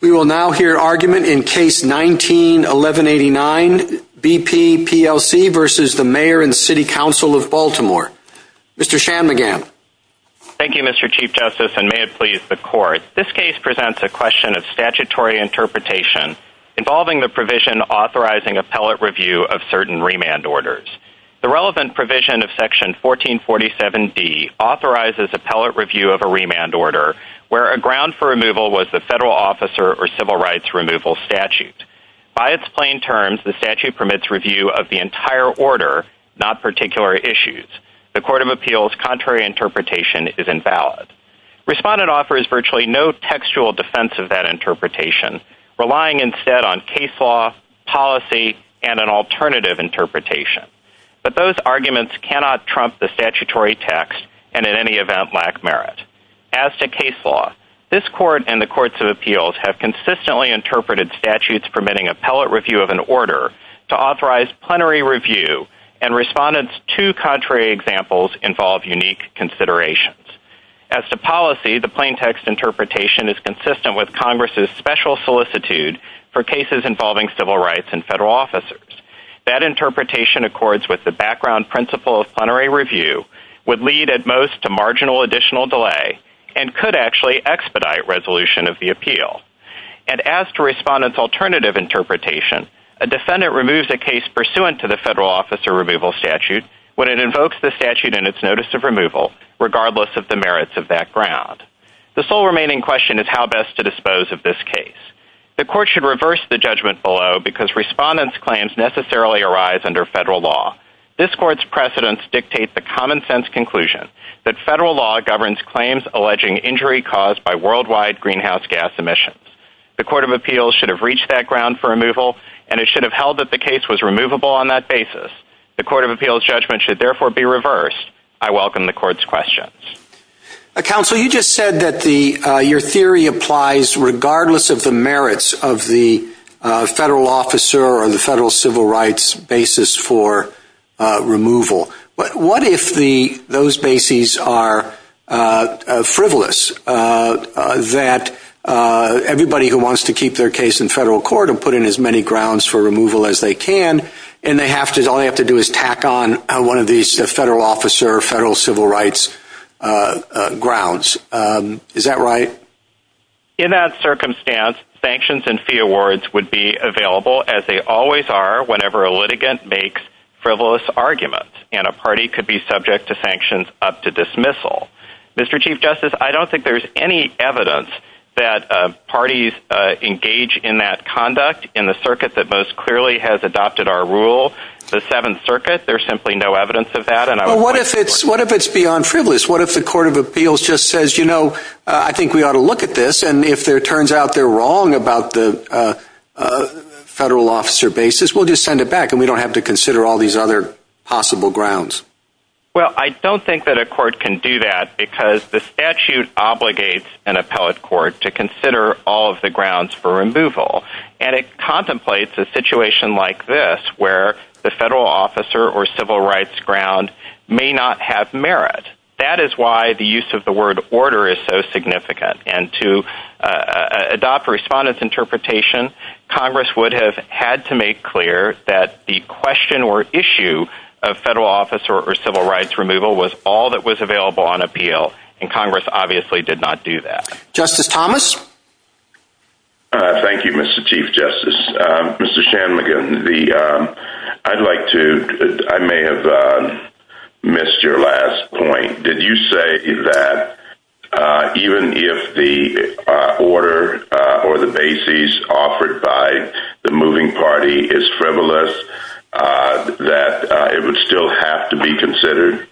We will now hear argument in Case 19-1189, B.P. p.l.c. v. Mayor and City Council of Baltimore. Mr. Shanmugam. Thank you, Mr. Chief Justice, and may it please the Court. This case presents a question of statutory interpretation involving the provision authorizing appellate review of certain remand orders. The relevant provision of Section 1447d authorizes appellate review of a remand order where a federal officer or civil rights removal statute. By its plain terms, the statute permits review of the entire order, not particular issues. The Court of Appeals' contrary interpretation is invalid. Respondent offers virtually no textual defense of that interpretation, relying instead on case law, policy, and an alternative interpretation. But those arguments cannot trump the statutory text, and in any event lack merit. As to case law, this Court and the Courts of Appeals have consistently interpreted statutes permitting appellate review of an order to authorize plenary review, and Respondent's two contrary examples involve unique considerations. As to policy, the plain text interpretation is consistent with Congress' special solicitude for cases involving civil rights and federal officers. That interpretation accords with the background principle of plenary review, would lead at and could actually expedite resolution of the appeal. And as to Respondent's alternative interpretation, a defendant removes a case pursuant to the federal officer removal statute when it invokes the statute in its notice of removal, regardless of the merits of that ground. The sole remaining question is how best to dispose of this case. The Court should reverse the judgment below because Respondent's claims necessarily arise under federal law. This Court's precedents dictate the common sense conclusion that federal law governs claims alleging injury caused by worldwide greenhouse gas emissions. The Court of Appeals should have reached that ground for removal, and it should have held that the case was removable on that basis. The Court of Appeals' judgment should therefore be reversed. I welcome the Court's questions. Counsel, you just said that your theory applies regardless of the merits of the federal officer or the federal civil rights basis for removal. But what if those bases are frivolous, that everybody who wants to keep their case in federal court and put in as many grounds for removal as they can, and all they have to do is tack on one of these federal officer or federal civil rights grounds. Is that right? In that circumstance, sanctions and fee awards would be available, as they always are, whenever a litigant makes frivolous arguments, and a party could be subject to sanctions up to dismissal. Mr. Chief Justice, I don't think there's any evidence that parties engage in that conduct in the circuit that most clearly has adopted our rule, the Seventh Circuit. There's simply no evidence of that, and I don't think— What if it's beyond frivolous? What if the Court of Appeals just says, you know, I think we ought to look at this, and if it turns out they're wrong about the federal officer basis, we'll just send it back, and we don't have to consider all these other possible grounds. Well, I don't think that a court can do that, because the statute obligates an appellate court to consider all of the grounds for removal, and it contemplates a situation like this, where the federal officer or civil rights ground may not have merit. And that is why the use of the word order is so significant, and to adopt a respondent's interpretation, Congress would have had to make clear that the question or issue of federal officer or civil rights removal was all that was available on appeal, and Congress obviously did not do that. Justice Thomas? Thank you, Mr. Chief Justice. Mr. Shanmugam, I'd like to—I may have missed your last point. Did you say that even if the order or the basis offered by the moving party is frivolous, that it would still have to be considered?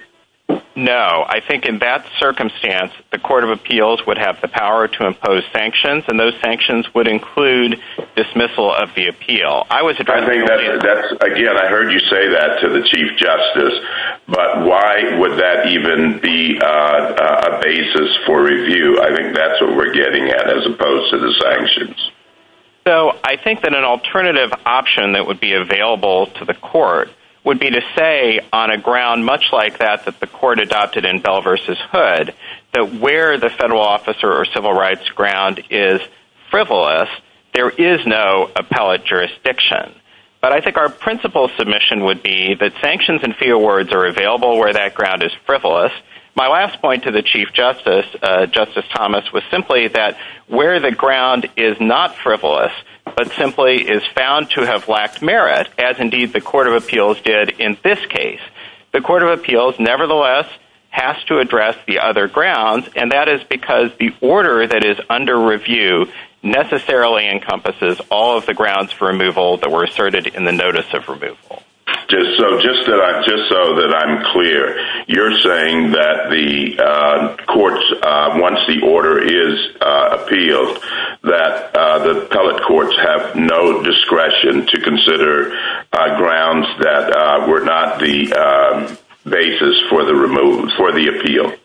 No. I think in that circumstance, the Court of Appeals would have the power to impose sanctions, and those sanctions would include dismissal of the appeal. I was— I think that's—again, I heard you say that to the Chief Justice, but why would that even be a basis for review? I think that's what we're getting at, as opposed to the sanctions. So I think that an alternative option that would be available to the court would be to say on a ground much like that that the court adopted in Bell v. Hood, that where the federal officer or civil rights ground is frivolous, there is no appellate jurisdiction. But I think our principal submission would be that sanctions and fee awards are available where that ground is frivolous. My last point to the Chief Justice, Justice Thomas, was simply that where the ground is not frivolous, but simply is found to have lacked merit, as indeed the Court of Appeals did in this case. The Court of Appeals nevertheless has to address the other grounds, and that is because the order that is under review necessarily encompasses all of the grounds for removal that were asserted in the Notice of Removal. So just so that I'm clear, you're saying that the courts, once the order is appealed, that the appellate courts have no discretion to consider grounds that were not the basis for the appeal?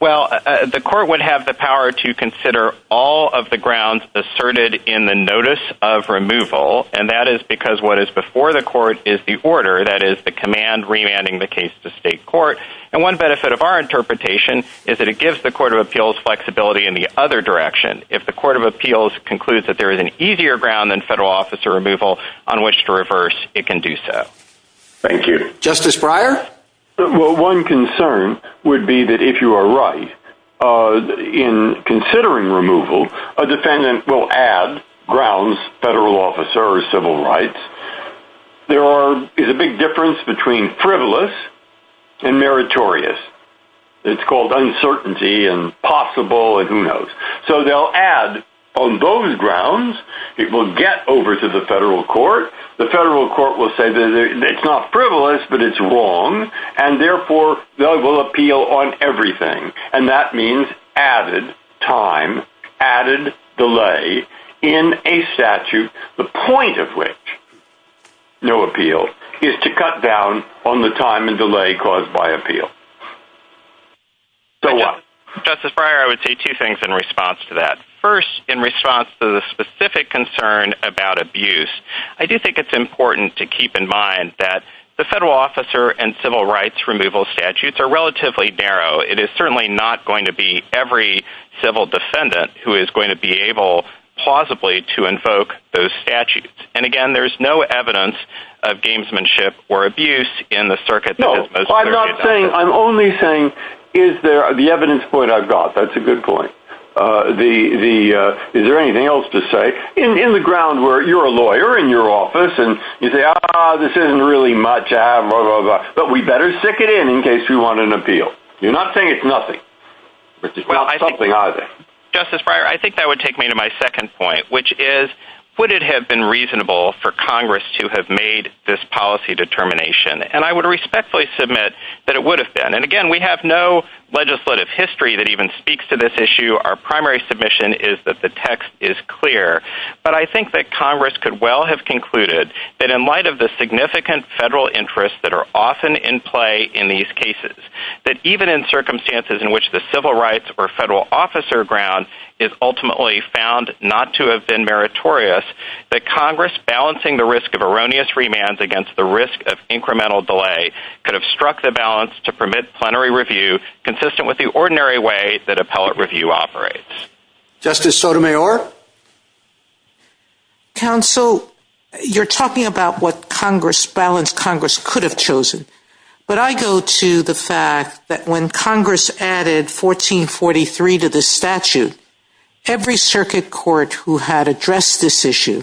Well, the court would have the power to consider all of the grounds asserted in the Notice of Removal, and that is because what is before the court is the order, that is the command remanding the case to state court. And one benefit of our interpretation is that it gives the Court of Appeals flexibility in the other direction. If the Court of Appeals concludes that there is an easier ground than federal officer removal on which to reverse, it can do so. Thank you. Justice Breyer? Well, one concern would be that if you are right, in considering removal, a defendant will add grounds, federal officers, civil rights. There is a big difference between frivolous and meritorious. It's called uncertainty and possible and who knows. So they'll add on those grounds, it will get over to the federal court. The federal court will say that it's not frivolous, but it's wrong. And therefore, they will appeal on everything. And that means added time, added delay in a statute, the point of which no appeal is to cut down on the time and delay caused by appeal. So what? Justice Breyer, I would say two things in response to that. First, in response to the specific concern about abuse, I do think it's important to keep in mind that the federal officer and civil rights removal statutes are relatively narrow. It is certainly not going to be every civil defendant who is going to be able, plausibly, to invoke those statutes. And again, there is no evidence of gamesmanship or abuse in the circuit that is most... No, I'm not saying, I'm only saying, is there, the evidence point I've got, that's a good point. The, the, is there anything else to say? In the ground where you're a lawyer in your office and you say, ah, this isn't really much, ah, blah, blah, blah, but we better stick it in in case we want an appeal. You're not saying it's nothing, it's not something either. Justice Breyer, I think that would take me to my second point, which is, would it have been reasonable for Congress to have made this policy determination? And I would respectfully submit that it would have been. And again, we have no legislative history that even speaks to this issue. Our primary submission is that the text is clear, but I think that Congress could well have concluded that in light of the significant federal interests that are often in play in these cases, that even in circumstances in which the civil rights or federal officer ground is ultimately found not to have been meritorious, that Congress balancing the risk of erroneous remands against the risk of incremental delay could have struck the balance to permit plenary review consistent with the ordinary way that appellate review operates. Justice Sotomayor? Counsel, you're talking about what Congress balanced Congress could have chosen, but I think that the statute, every circuit court who had addressed this issue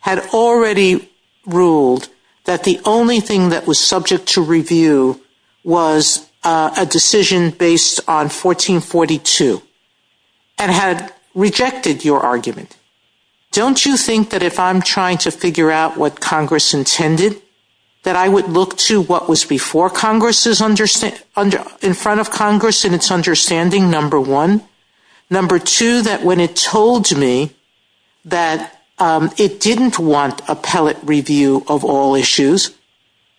had already ruled that the only thing that was subject to review was a decision based on 1442 and had rejected your argument. Don't you think that if I'm trying to figure out what Congress intended, that I would look to what was before Congress in front of Congress in its understanding, number one? Number two, that when it told me that it didn't want appellate review of all issues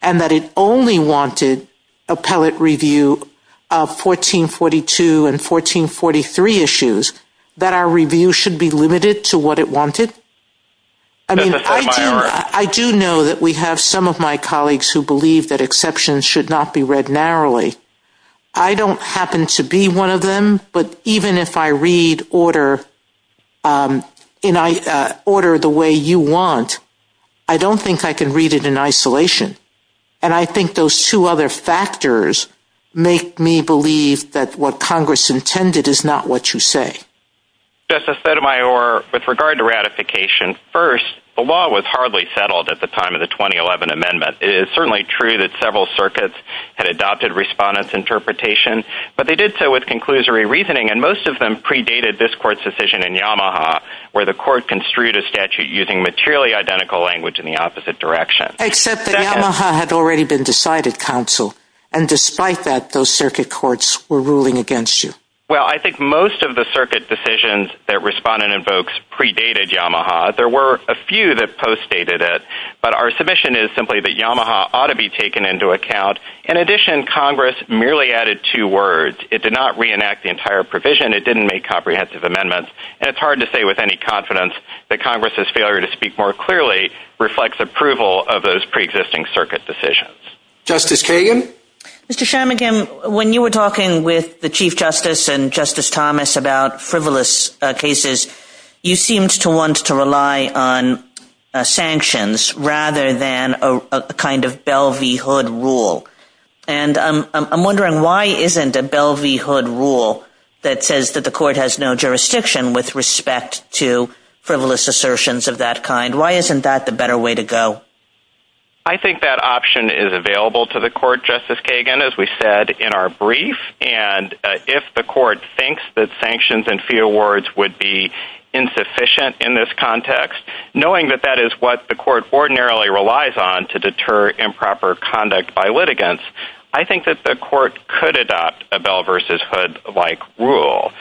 and that it only wanted appellate review of 1442 and 1443 issues, that our review should be limited to what it wanted? Justice Sotomayor? I do know that we have some of my colleagues who believe that exceptions should not be read narrowly. I don't happen to be one of them, but even if I read order the way you want, I don't think I can read it in isolation. And I think those two other factors make me believe that what Congress intended is not what you say. Justice Sotomayor, with regard to ratification, first, the law was hardly settled at the time of the 2011 amendment. It is certainly true that several circuits had adopted respondents' interpretation, but they did so with conclusory reasoning, and most of them predated this court's decision in Yamaha, where the court construed a statute using materially identical language in the opposite direction. Except that Yamaha had already been decided, counsel, and despite that, those circuit courts were ruling against you. Well, I think most of the circuit decisions that respondent invokes predated Yamaha. There were a few that postdated it, but our submission is simply that Yamaha ought to be taken into account. In addition, Congress merely added two words. It did not reenact the entire provision. It didn't make comprehensive amendments, and it's hard to say with any confidence that Congress's failure to speak more clearly reflects approval of those preexisting circuit decisions. Justice Kagan? Mr. Sharmagam, when you were talking with the Chief Justice and Justice Thomas about frivolous cases, you seemed to want to rely on sanctions rather than a kind of Bell v. Hood rule, and I'm wondering why isn't a Bell v. Hood rule that says that the court has no jurisdiction with respect to frivolous assertions of that kind, why isn't that the better way to go? I think that option is available to the court, Justice Kagan, as we said in our brief, and if the court thinks that sanctions and fee awards would be insufficient in this context, knowing that that is what the court ordinarily relies on to deter improper conduct by litigants, I think that the court could adopt a Bell v. Hood-like rule,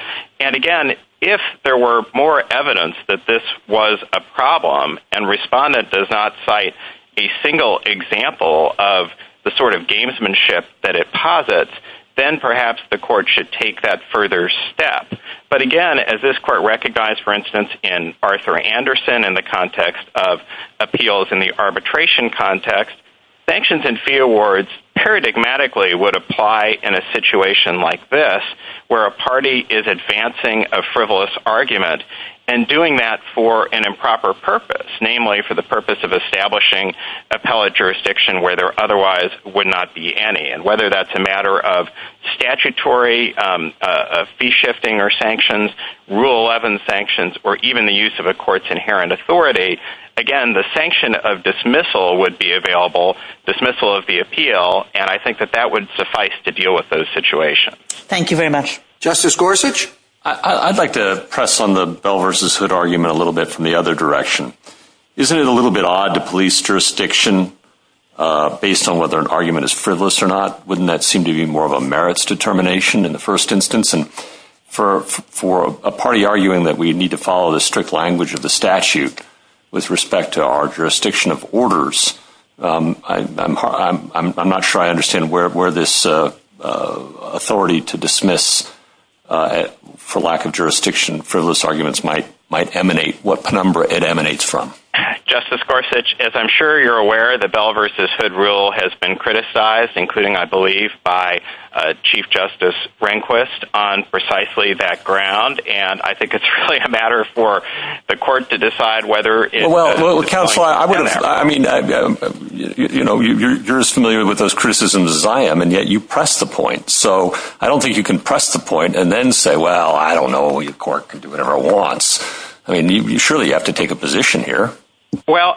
and again, if there were more evidence that this was a problem and Respondent does not cite a single example of the sort of gamesmanship that it posits, then perhaps the court should take that further step, but again, as this court recognized, for instance, in Arthur Anderson in the context of appeals in the arbitration context, sanctions and fee awards paradigmatically would apply in a situation like this, where a party is advancing a frivolous argument and doing that for an improper purpose, namely for the purpose of establishing appellate jurisdiction where there otherwise would not be any, and whether that's a matter of statutory fee shifting or sanctions, Rule 11 sanctions, or even the use of a court's inherent authority, again, the sanction of dismissal would be available, dismissal of the appeal, and I think that would suffice to deal with those situations. Thank you very much. Justice Gorsuch? I'd like to press on the Bell v. Hood argument a little bit from the other direction. Isn't it a little bit odd to police jurisdiction based on whether an argument is frivolous or not? Wouldn't that seem to be more of a merits determination in the first instance? For a party arguing that we need to follow the strict language of the statute with respect to our jurisdiction of orders, I'm not sure I understand where this authority to dismiss for lack of jurisdiction, frivolous arguments might emanate, what penumbra it emanates from. Justice Gorsuch, as I'm sure you're aware, the Bell v. Hood rule has been criticized, including I believe by Chief Justice Rehnquist on precisely that ground, and I think it's not really a matter for the court to decide whether it... Well, counsel, I mean, you're as familiar with those criticisms as I am, and yet you press the point. So I don't think you can press the point and then say, well, I don't know, your court can do whatever it wants. I mean, surely you have to take a position here. Well,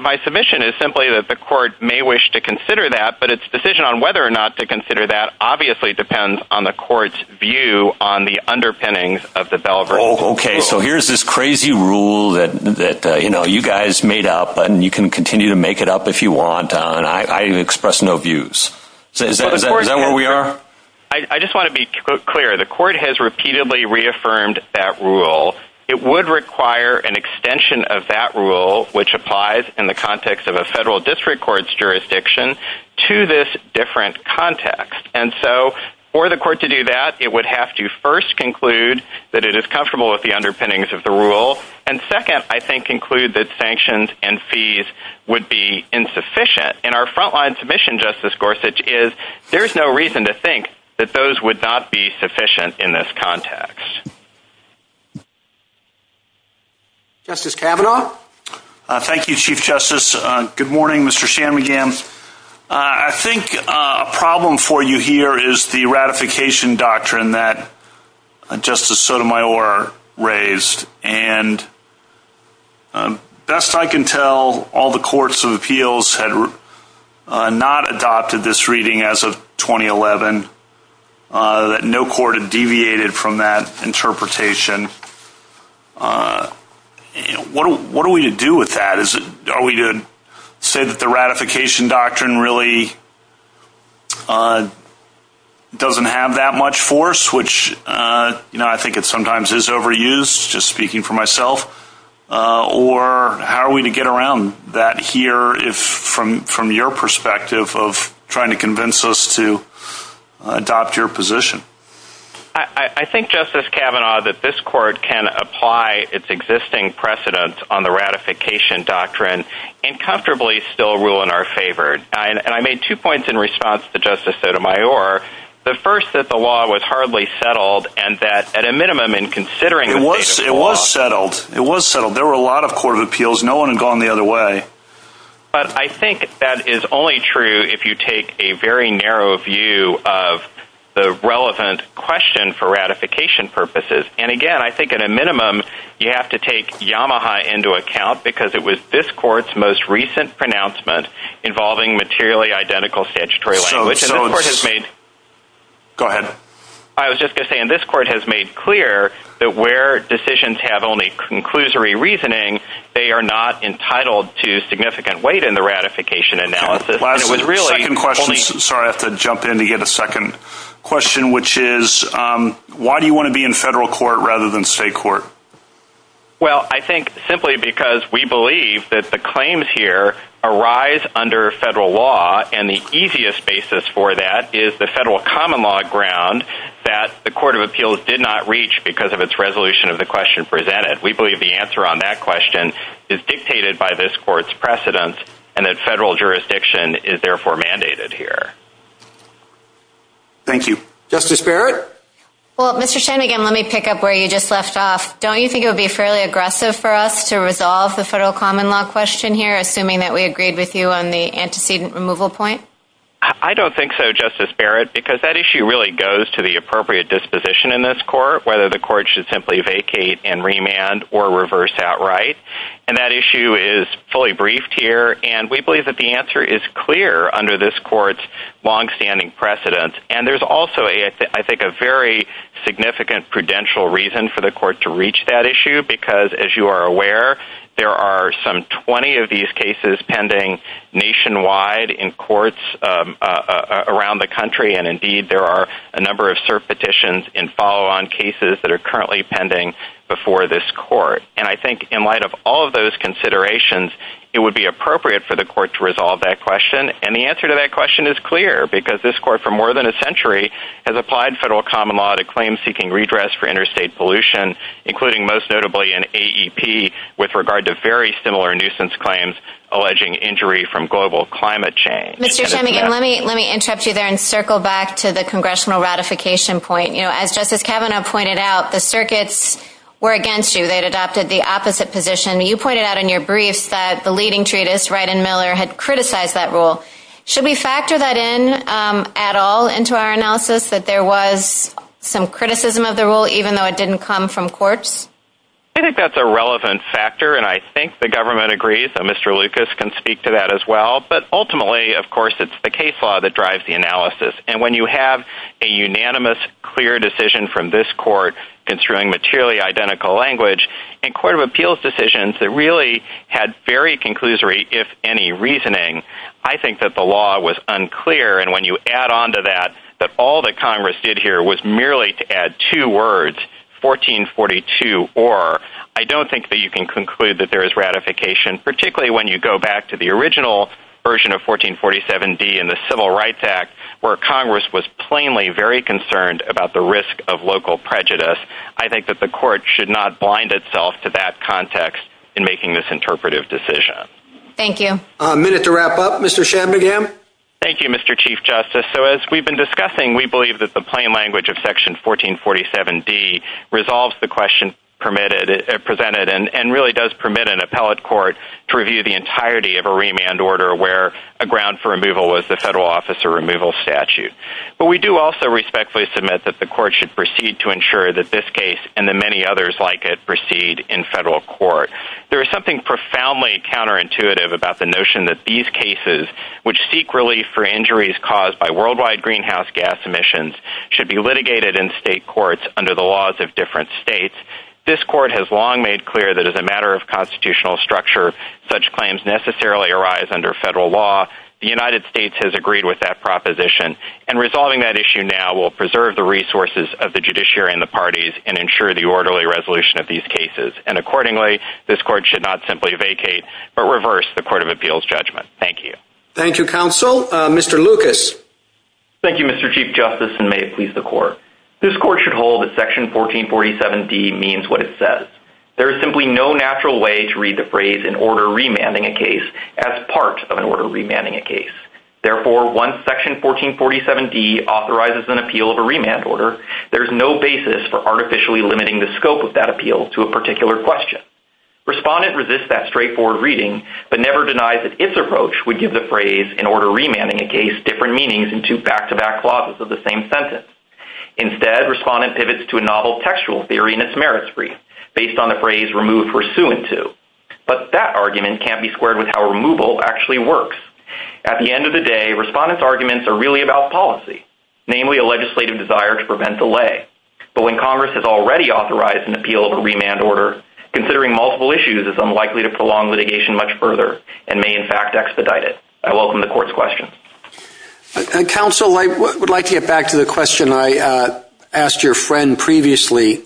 my submission is simply that the court may wish to consider that, but its decision on whether or not to consider that obviously depends on the court's view on the underpinnings of the Bell v. Hood rule. Oh, okay. So here's this crazy rule that you guys made up, and you can continue to make it up if you want. I express no views. Is that where we are? I just want to be clear. The court has repeatedly reaffirmed that rule. It would require an extension of that rule, which applies in the context of a federal district court's jurisdiction, to this different context. And so for the court to do that, it would have to first conclude that it is comfortable with the underpinnings of the rule, and second, I think, conclude that sanctions and fees would be insufficient. And our frontline submission, Justice Gorsuch, is there is no reason to think that those would not be sufficient in this context. Justice Kavanaugh? Thank you, Chief Justice. Good morning, Mr. Shanmugam. I think a problem for you here is the ratification doctrine that Justice Sotomayor raised. And best I can tell, all the courts of appeals had not adopted this reading as of 2011, that no court had deviated from that interpretation. What do we do with that? Are we to say that the ratification doctrine really doesn't have that much force, which I think it sometimes is overused, just speaking for myself, or how are we to get around that here from your perspective of trying to convince us to adopt your position? I think, Justice Kavanaugh, that this court can apply its existing precedent on the ratification doctrine and comfortably still rule in our favor. And I made two points in response to Justice Sotomayor. The first, that the law was hardly settled and that, at a minimum, in considering the state of the law... It was settled. It was settled. There were a lot of court of appeals. No one had gone the other way. But I think that is only true if you take a very narrow view of the relevant question for ratification purposes. And again, I think, at a minimum, you have to take Yamaha into account, because it was this court's most recent pronouncement involving materially identical statutory language. And this court has made... Go ahead. I was just going to say, and this court has made clear that where decisions have only conclusory reasoning, they are not entitled to significant weight in the ratification analysis. And it was really... Sorry, I have to jump in to get a second question, which is, why do you want to be in federal court rather than state court? Well, I think simply because we believe that the claims here arise under federal law, and the easiest basis for that is the federal common law ground that the court of appeals did not reach because of its resolution of the question presented. We believe the answer on that question is dictated by this court's precedence, and that federal jurisdiction is therefore mandated here. Thank you. Justice Barrett? Well, Mr. Shane, again, let me pick up where you just left off. Don't you think it would be fairly aggressive for us to resolve the federal common law question here, assuming that we agreed with you on the antecedent removal point? I don't think so, Justice Barrett, because that issue really goes to the appropriate disposition in this court, whether the court should simply vacate and remand or reverse outright. And that issue is fully briefed here, and we believe that the answer is clear under this court's longstanding precedent. And there's also, I think, a very significant prudential reason for the court to reach that issue because, as you are aware, there are some 20 of these cases pending nationwide in courts around the country, and indeed there are a number of cert petitions and follow-on cases that are currently pending before this court. And I think in light of all of those considerations, it would be appropriate for the court to resolve that question. And the answer to that question is clear because this court, for more than a century, has applied federal common law to claims seeking redress for interstate pollution, including most notably in AEP with regard to very similar nuisance claims alleging injury from global climate change. Mr. Cheney, let me interrupt you there and circle back to the congressional ratification point. As Justice Kavanaugh pointed out, the circuits were against you. They'd adopted the opposite position. You pointed out in your briefs that the leading treatise, Wright and Miller, had criticized that rule. Should we factor that in at all into our analysis, that there was some criticism of the rule even though it didn't come from courts? I think that's a relevant factor, and I think the government agrees, and Mr. Lucas can speak to that as well, but ultimately, of course, it's the case law that drives the analysis. And when you have a unanimous, clear decision from this court construing materially identical language and court of appeals decisions that really had very conclusory, if any, reasoning, I think that the law was unclear, and when you add onto that that all that Congress did here was merely to add two words, 1442 or, I don't think that you can conclude that there is ratification, particularly when you go back to the original version of 1447D in the Civil Rights Act where Congress was plainly very concerned about the risk of local prejudice. I think that the court should not blind itself to that context in making this interpretive decision. Thank you. A minute to wrap up. Mr. Shanmugam? Thank you, Mr. Chief Justice. So, as we've been discussing, we believe that the plain language of Section 1447D resolves the question presented and really does permit an appellate court to review the entirety of a remand order where a ground for removal was the federal officer removal statute. We do also respectfully submit that the court should proceed to ensure that this case and the many others like it proceed in federal court. There is something profoundly counterintuitive about the notion that these cases, which seek relief for injuries caused by worldwide greenhouse gas emissions, should be litigated in state courts under the laws of different states. This court has long made clear that as a matter of constitutional structure, such claims necessarily arise under federal law. The United States has agreed with that proposition, and resolving that issue now will preserve the resources of the judiciary and the parties and ensure the orderly resolution of these cases. And accordingly, this court should not simply vacate, but reverse the Court of Appeals judgment. Thank you. Thank you, counsel. Mr. Lucas? Thank you, Mr. Chief Justice, and may it please the court. This court should hold that Section 1447D means what it says. There is simply no natural way to read the phrase, in order of remanding a case, as part of an order of remanding a case. Therefore, once Section 1447D authorizes an appeal of a remand order, there is no basis for artificially limiting the scope of that appeal to a particular question. Respondent resists that straightforward reading, but never denies that its approach would give the phrase, in order of remanding a case, different meanings in two back-to-back clauses of the same sentence. Instead, respondent pivots to a novel textual theory in its merits brief, based on the phrase removed for suing to. But that argument can't be squared with how removal actually works. At the end of the day, respondent's arguments are really about policy, namely a legislative desire to prevent delay. But when Congress has already authorized an appeal of a remand order, considering multiple issues is unlikely to prolong litigation much further and may, in fact, expedite it. I welcome the court's question. Counsel, I would like to get back to the question I asked your friend previously.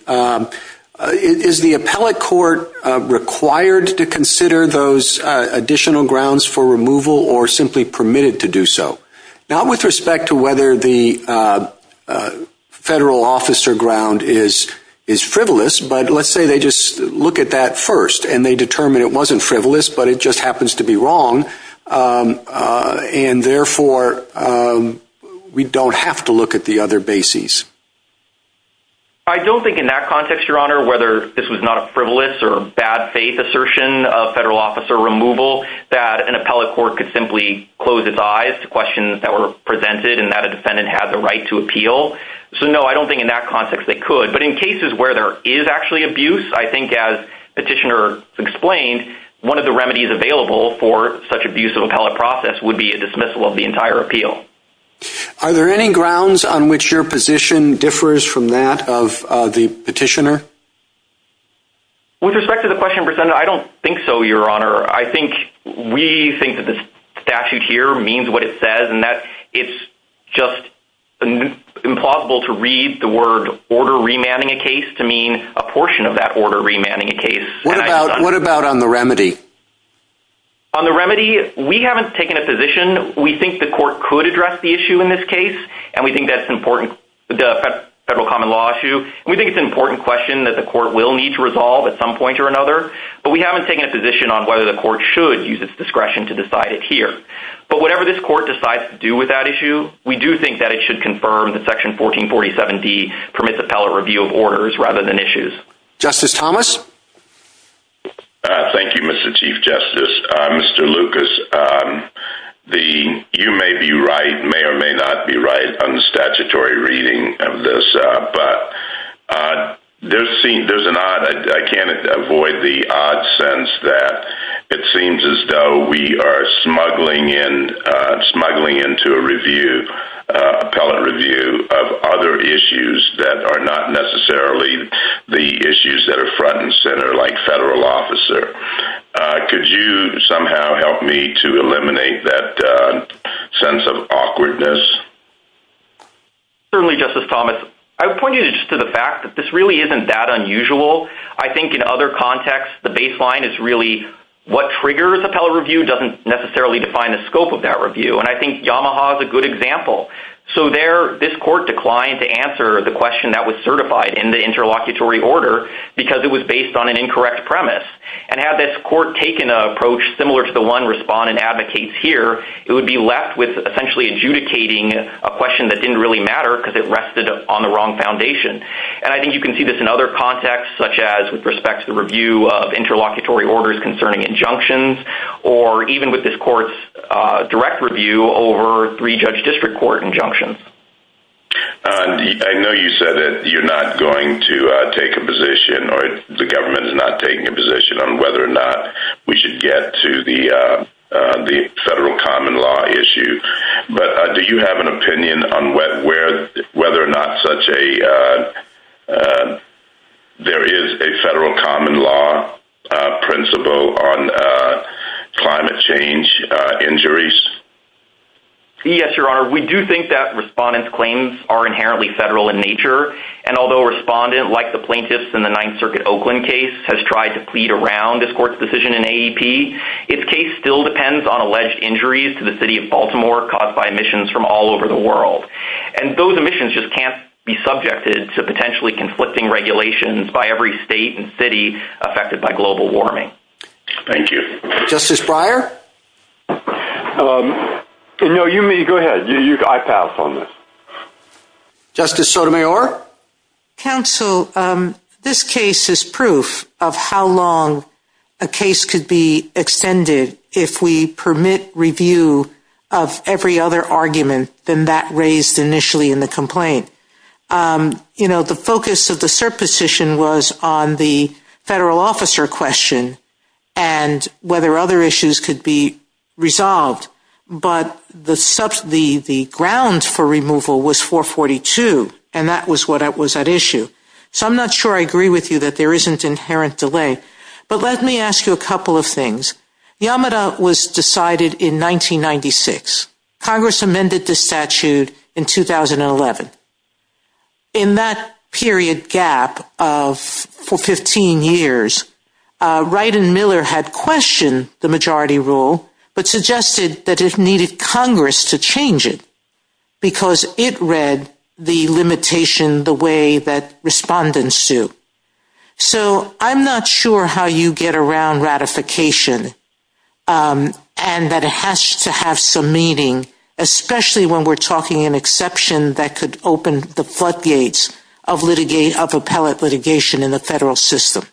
Is the appellate court required to consider those additional grounds for removal or simply permitted to do so? Not with respect to whether the federal office or ground is frivolous, but let's say they just look at that first and they determine it wasn't frivolous, but it just happens to be wrong, and therefore we don't have to look at the other bases. I don't think in that context, Your Honor, whether this was not a frivolous or a bad-faith assertion of federal officer removal, that an appellate court could simply close its eyes to questions that were presented and that a defendant had the right to appeal. So no, I don't think in that context they could. But in cases where there is actually abuse, I think as Petitioner explained, one of the grounds for such abuse of appellate process would be a dismissal of the entire appeal. Are there any grounds on which your position differs from that of the Petitioner? With respect to the question presented, I don't think so, Your Honor. I think we think that this statute here means what it says, and that it's just implausible to read the word order remanding a case to mean a portion of that order remanding a case. What about on the remedy? On the remedy, we haven't taken a position. We think the court could address the issue in this case, and we think that's important to the Federal Common Law issue. We think it's an important question that the court will need to resolve at some point or another, but we haven't taken a position on whether the court should use its discretion to decide it here. But whatever this court decides to do with that issue, we do think that it should confirm that Section 1447D permits appellate review of orders rather than issues. Justice Thomas? Thank you, Mr. Chief Justice. Mr. Lucas, you may be right, may or may not be right on the statutory reading of this, but there's an odd... I can't avoid the odd sense that it seems as though we are smuggling into a review, appellate review, of other issues that are not necessarily the issues that are front and center, like federal officer. Could you somehow help me to eliminate that sense of awkwardness? Certainly, Justice Thomas. I would point you just to the fact that this really isn't that unusual. I think in other contexts, the baseline is really what triggers appellate review doesn't necessarily define the scope of that review, and I think Yamaha is a good example. So there, this court declined to answer the question that was certified in the interlocutory order because it was based on an incorrect premise, and had this court taken an approach similar to the one respondent advocates here, it would be left with essentially adjudicating a question that didn't really matter because it rested on the wrong foundation. I think you can see this in other contexts, such as with respect to review of interlocutory orders concerning injunctions, or even with this court's direct review over three judge district court injunctions. I know you said that you're not going to take a position, or the government is not taking a position on whether or not we should get to the federal common law issue, but do you have an opinion on whether or not such a, there is a federal common law principle on climate change injuries? Yes, Your Honor. We do think that respondent's claims are inherently federal in nature, and although respondent, like the plaintiffs in the Ninth Circuit Oakland case, has tried to plead around this court's decision in AEP, its case still depends on alleged injuries to the city of Baltimore caused by emissions from all over the world, and those emissions just can't be subjected to potentially conflicting regulations by every state and city affected by global warming. Thank you. Justice Breyer? No, you may, go ahead, you can, I pass on this. Justice Sotomayor? Counsel, this case is proof of how long a case could be extended if we permit review of every other argument than that raised initially in the complaint. You know, the focus of the cert position was on the federal officer question, and whether other issues could be resolved, but the grounds for removal was 442, and that was what was at issue. So I'm not sure I agree with you that there isn't inherent delay, but let me ask you a couple of things. Yamada was decided in 1996. Congress amended the statute in 2011. In that period gap of, for 15 years, Wright and Miller had questioned the majority rule, but suggested that it needed Congress to change it, because it read the limitation the way that respondents do. So I'm not sure how you get around ratification, and that it has to have some meaning, especially when we're talking an exception that could open the floodgates of appellate litigation in the federal system.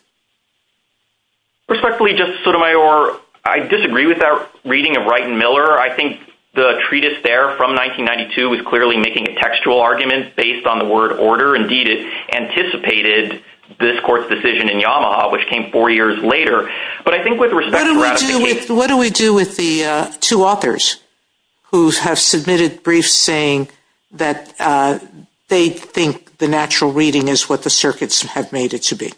Respectfully, Justice Sotomayor, I disagree with that reading of Wright and Miller. I think the treatise there from 1992 was clearly making a textual argument based on the word order. Indeed, it anticipated this court's decision in Yamada, which came four years later. But I think with respect to ratification— What do we do with the two authors who have submitted briefs saying that they think the natural reading is what the circuits have made it to be?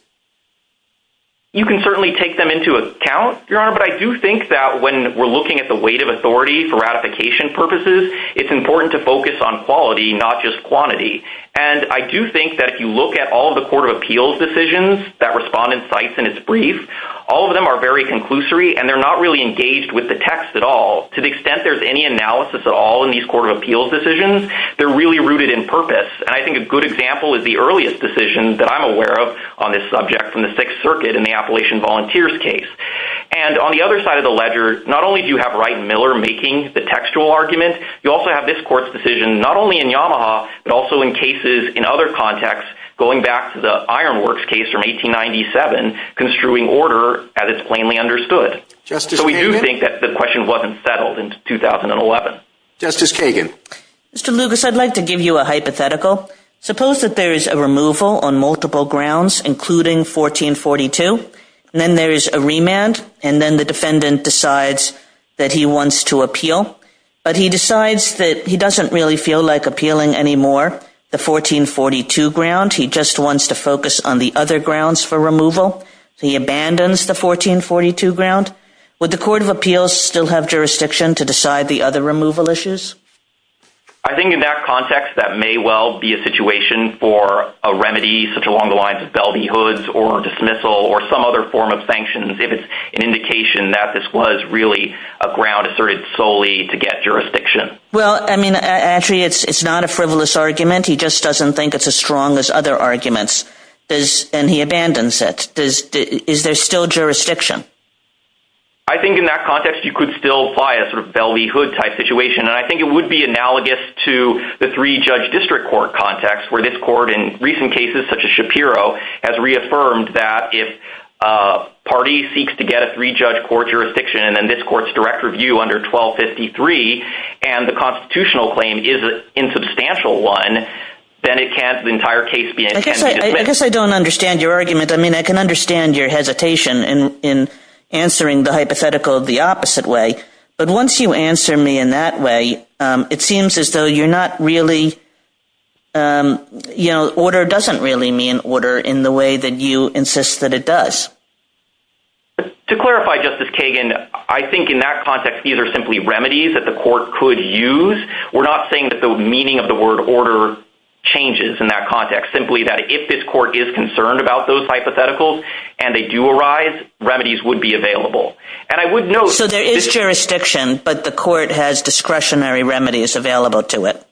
You can certainly take them into account, Your Honor, but I do think that when we're looking at the weight of authority for ratification purposes, it's important to focus on quality, not just quantity. And I do think that if you look at all the court of appeals decisions that respondent writes in its brief, all of them are very conclusory, and they're not really engaged with the text at all. To the extent there's any analysis at all in these court of appeals decisions, they're really rooted in purpose. And I think a good example is the earliest decision that I'm aware of on this subject from the Sixth Circuit in the Appalachian Volunteers case. And on the other side of the ledger, not only do you have Wright and Miller making the textual argument, you also have this court's decision, not only in Yamada, but also in cases in other contexts, going back to the Ironworks case from 1897, construing order as it's plainly understood. Justice Kagan? So we do think that the question wasn't settled in 2011. Justice Kagan. Mr. Lucas, I'd like to give you a hypothetical. Suppose that there's a removal on multiple grounds, including 1442, and then there's a remand, and then the defendant decides that he wants to appeal, but he decides that he just wants to focus on the other grounds for removal, so he abandons the 1442 ground. Would the court of appeals still have jurisdiction to decide the other removal issues? I think in that context, that may well be a situation for a remedy, such along the lines of belty hoods, or dismissal, or some other form of sanctions, if it's an indication that this was really a ground asserted solely to get jurisdiction. Well, I mean, actually, it's not a frivolous argument. He just doesn't think it's as strong as other arguments, and he abandons it. Is there still jurisdiction? I think in that context, you could still apply a sort of belty hood type situation, and I think it would be analogous to the three-judge district court context, where this court, in recent cases such as Shapiro, has reaffirmed that if a party seeks to get a three-judge court jurisdiction, and then this court's direct review under 1253, and the constitutional claim is an insubstantial one, then it can't, the entire case can't be dismissed. I guess I don't understand your argument. I mean, I can understand your hesitation in answering the hypothetical the opposite way, but once you answer me in that way, it seems as though you're not really, you know, order doesn't really mean order in the way that you insist that it does. To clarify, Justice Kagan, I think in that context, these are simply remedies that the we're not saying that the meaning of the word order changes in that context, simply that if this court is concerned about those hypotheticals, and they do arise, remedies would be available. And I would note— So there is jurisdiction, but the court has discretionary remedies available to it?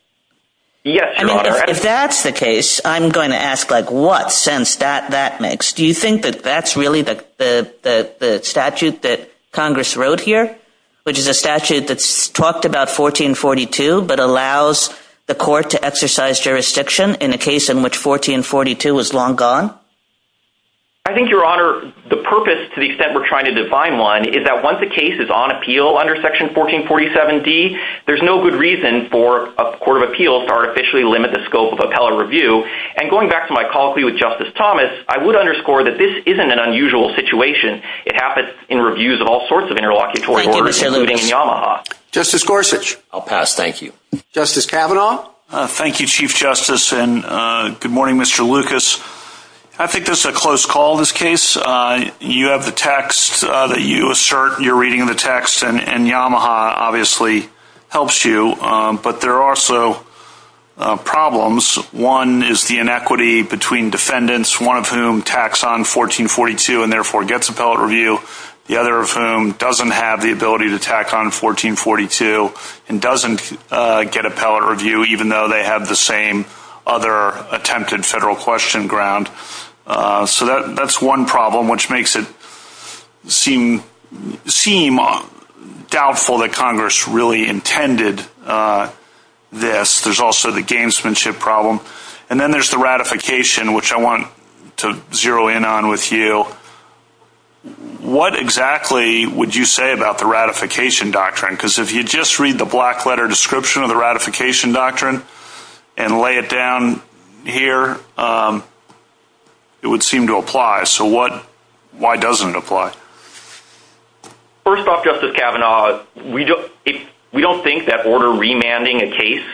Yes, Your Honor. I mean, if that's the case, I'm going to ask, like, what sense that makes. Do you think that that's really the statute that Congress wrote here, which is a statute that's talked about 1442, but allows the court to exercise jurisdiction in a case in which 1442 was long gone? I think, Your Honor, the purpose, to the extent we're trying to define one, is that once a case is on appeal under Section 1447d, there's no good reason for a court of appeals to artificially limit the scope of appellate review. And going back to my colloquy with Justice Thomas, I would underscore that this isn't an unusual situation. It happens in reviews of all sorts of interlocutory courts, including in Yamaha. Justice Gorsuch. I'll pass. Thank you. Justice Kavanaugh. Thank you, Chief Justice, and good morning, Mr. Lucas. I think this is a close call, this case. You have the text that you assert. You're reading the text, and Yamaha obviously helps you. But there are also problems. One is the inequity between defendants, one of whom taxed on 1442 and therefore gets appellate review, the other of whom doesn't have the ability to tax on 1442 and doesn't get appellate review, even though they have the same other attempted federal question ground. So that's one problem, which makes it seem doubtful that Congress really intended this. There's also the gamesmanship problem. And then there's the ratification, which I want to zero in on with you. What exactly would you say about the ratification doctrine? Because if you just read the black letter description of the ratification doctrine and lay it down here, it would seem to apply. So why doesn't it apply? First off, Justice Kavanaugh, we don't think that order remanding a case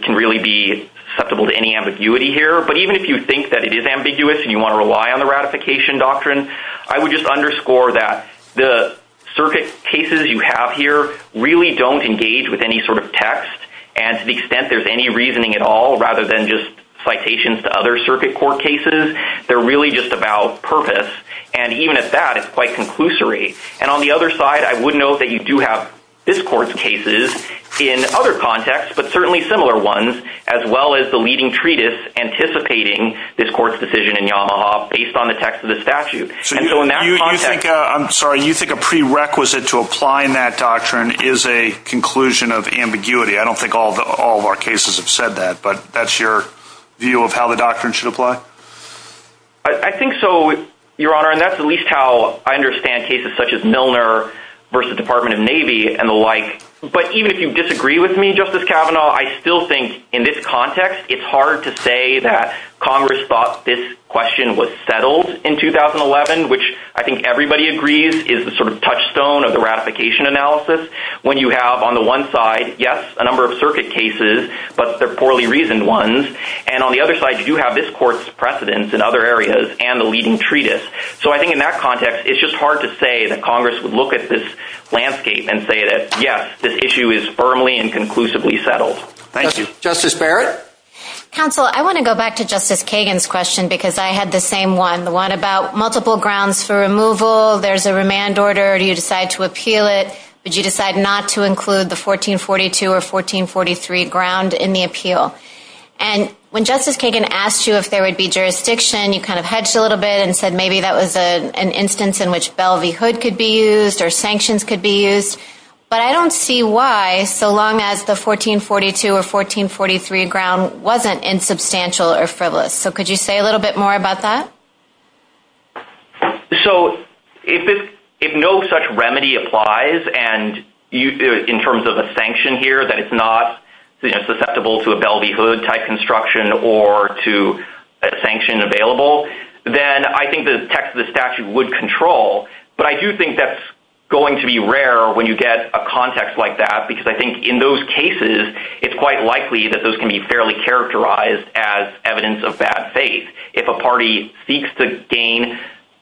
can really be susceptible to any ambiguity here. But even if you think that it is ambiguous and you want to rely on the ratification doctrine, I would just underscore that the circuit cases you have here really don't engage with any sort of text. And to the extent there's any reasoning at all, rather than just citations to other circuit court cases, they're really just about purpose. And even if that is quite conclusory. And on the other side, I would note that you do have this court's cases in other contexts, but certainly similar ones, as well as the leading treatise anticipating this court's decision in Yamaha based on the text of the statute. So you think a prerequisite to applying that doctrine is a conclusion of ambiguity? I don't think all of our cases have said that. But that's your view of how the doctrine should apply? I think so, Your Honor. And that's at least how I understand cases such as Milner versus Department of Navy and the like. But even if you disagree with me, Justice Kavanaugh, I still think in this context, it's hard to say that Congress thought this question was settled in 2011, which I think everybody agrees is the sort of touchstone of the ratification analysis, when you have on the one side, yes, a number of circuit cases, but they're poorly reasoned ones. And on the other side, you do have this court's precedents in other areas and the leading treatise. So I think in that context, it's just hard to say that Congress would look at this landscape and say that, yes, this issue is firmly and conclusively settled. Thank you. Justice Barrett? Counsel, I want to go back to Justice Kagan's question, because I had the same one, the one about multiple grounds for removal, there's a remand order, you decide to appeal it, but you decide not to include the 1442 or 1443 ground in the appeal. And when Justice Kagan asked you if there would be jurisdiction, you kind of hudged a little bit and said maybe that was an instance in which bellvyhood could be used or sanctions could be used, but I don't see why, so long as the 1442 or 1443 ground wasn't insubstantial or frivolous. So could you say a little bit more about that? So if no such remedy applies, and in terms of a sanction here, that it's not susceptible to a bellvyhood type construction or to a sanction available, then I think the text of the statute would control, but I do think that's going to be rare when you get a context like that, because I think in those cases, it's quite likely that those can be fairly characterized as evidence of bad faith. If a party seeks to gain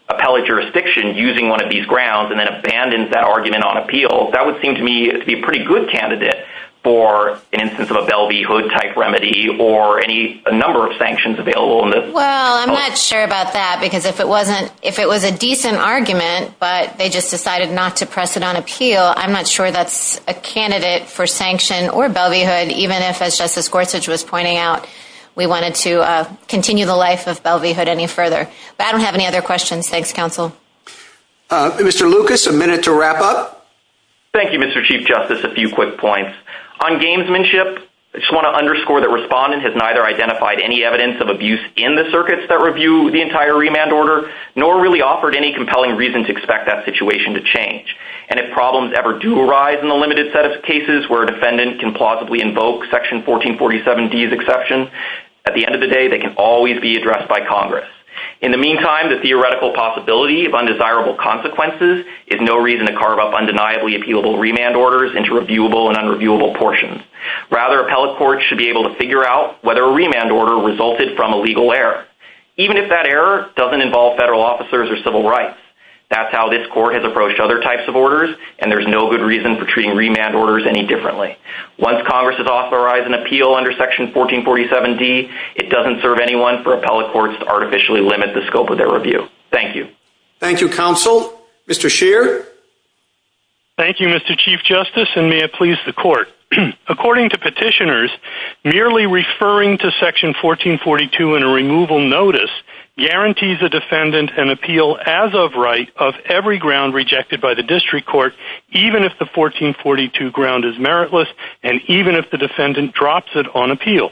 appellate jurisdiction using one of these grounds and then abandons that argument on appeal, that would seem to me to be a pretty good candidate for an instance of a bellvyhood type remedy or any number of sanctions available in this context. Well, I'm not sure about that, because if it was a decent argument, but they just decided not to press it on appeal, I'm not sure that's a candidate for sanction or bellvyhood, even if, as Justice Gorsuch was pointing out, we wanted to continue the life of bellvyhood any further. But I don't have any other questions. Thanks, counsel. Mr. Lucas, a minute to wrap up. Thank you, Mr. Chief Justice. A few quick points. On gamesmanship, I just want to underscore that Respondent has neither identified any evidence of abuse in the circuits that review the entire remand order, nor really offered any compelling reason to expect that situation to change. And if problems ever do arise in the limited set of cases where a defendant can plausibly invoke Section 1447D's exception, at the end of the day, they can always be addressed by Congress. In the meantime, the theoretical possibility of undesirable consequences is no reason to Rather, appellate courts should be able to figure out whether a remand order resulted from a legal error, even if that error doesn't involve federal officers or civil rights. That's how this court has approached other types of orders, and there's no good reason for treating remand orders any differently. Once Congress has authorized an appeal under Section 1447D, it doesn't serve anyone for appellate courts to artificially limit the scope of their review. Thank you. Thank you, counsel. Mr. Scheer? Thank you, Mr. Chief Justice, and may it please the Court. According to petitioners, merely referring to Section 1442 in a removal notice guarantees a defendant an appeal as of right of every ground rejected by the district court, even if the 1442 ground is meritless and even if the defendant drops it on appeal.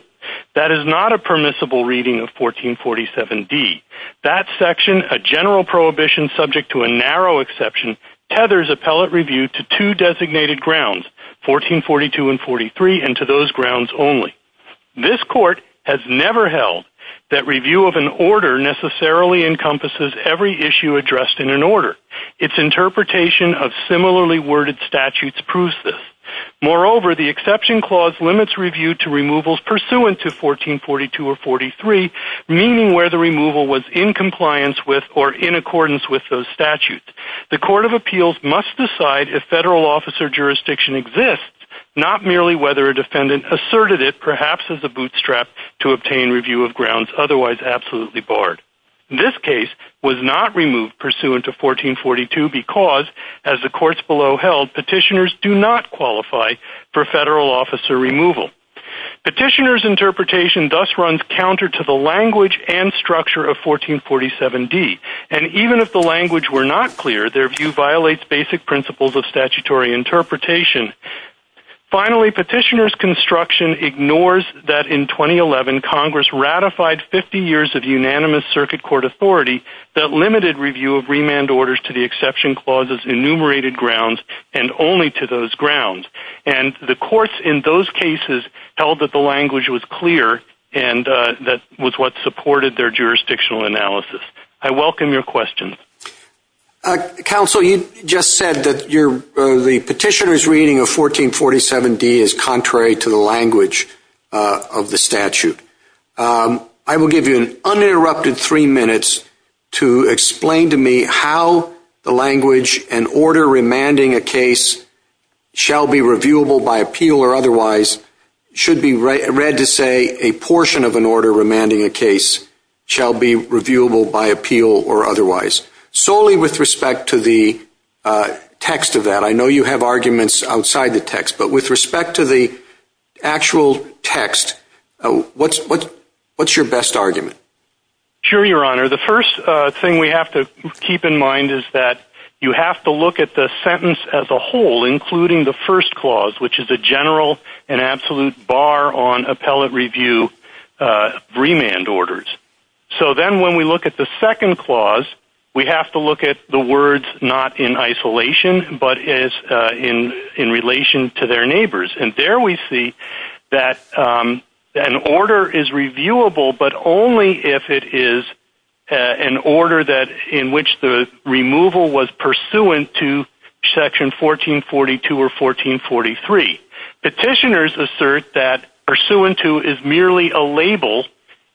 That is not a permissible reading of 1447D. That section, a general prohibition subject to a narrow exception, tethers appellate review to two designated grounds, 1442 and 43, and to those grounds only. This court has never held that review of an order necessarily encompasses every issue addressed in an order. Its interpretation of similarly worded statutes proves this. Moreover, the exception clause limits review to removals pursuant to 1442 or 43, meaning where the removal was in compliance with or in accordance with those statutes. The Court of Appeals must decide if federal officer jurisdiction exists, not merely whether a defendant asserted it, perhaps as a bootstrap to obtain review of grounds otherwise absolutely barred. This case was not removed pursuant to 1442 because, as the courts below held, petitioners do not qualify for federal officer removal. Petitioner's interpretation thus runs counter to the language and structure of 1447D, and even if the language were not clear, their view violates basic principles of statutory interpretation. Finally, petitioner's construction ignores that in 2011, Congress ratified 50 years of unanimous circuit court authority that limited review of remand orders to the exception clause's enumerated grounds and only to those grounds. The courts in those cases held that the language was clear and that was what supported their jurisdictional analysis. I welcome your questions. Counsel, you just said that the petitioner's reading of 1447D is contrary to the language of the statute. I will give you an uninterrupted three minutes to explain to me how the language and order shall be reviewable by appeal or otherwise should be read to say a portion of an order remanding a case shall be reviewable by appeal or otherwise, solely with respect to the text of that. I know you have arguments outside the text, but with respect to the actual text, what's your best argument? Sure, Your Honor. The first thing we have to keep in mind is that you have to look at the sentence as a clause, which is a general and absolute bar on appellate review remand orders. So then when we look at the second clause, we have to look at the words not in isolation, but in relation to their neighbors. And there we see that an order is reviewable, but only if it is an order in which the removal was pursuant to section 1442 or 1443. Petitioners assert that pursuant to is merely a label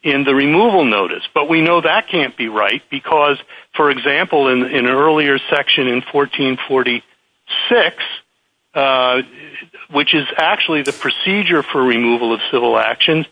in the removal notice. But we know that can't be right because, for example, in an earlier section in 1446, which is actually the procedure for removal of civil actions,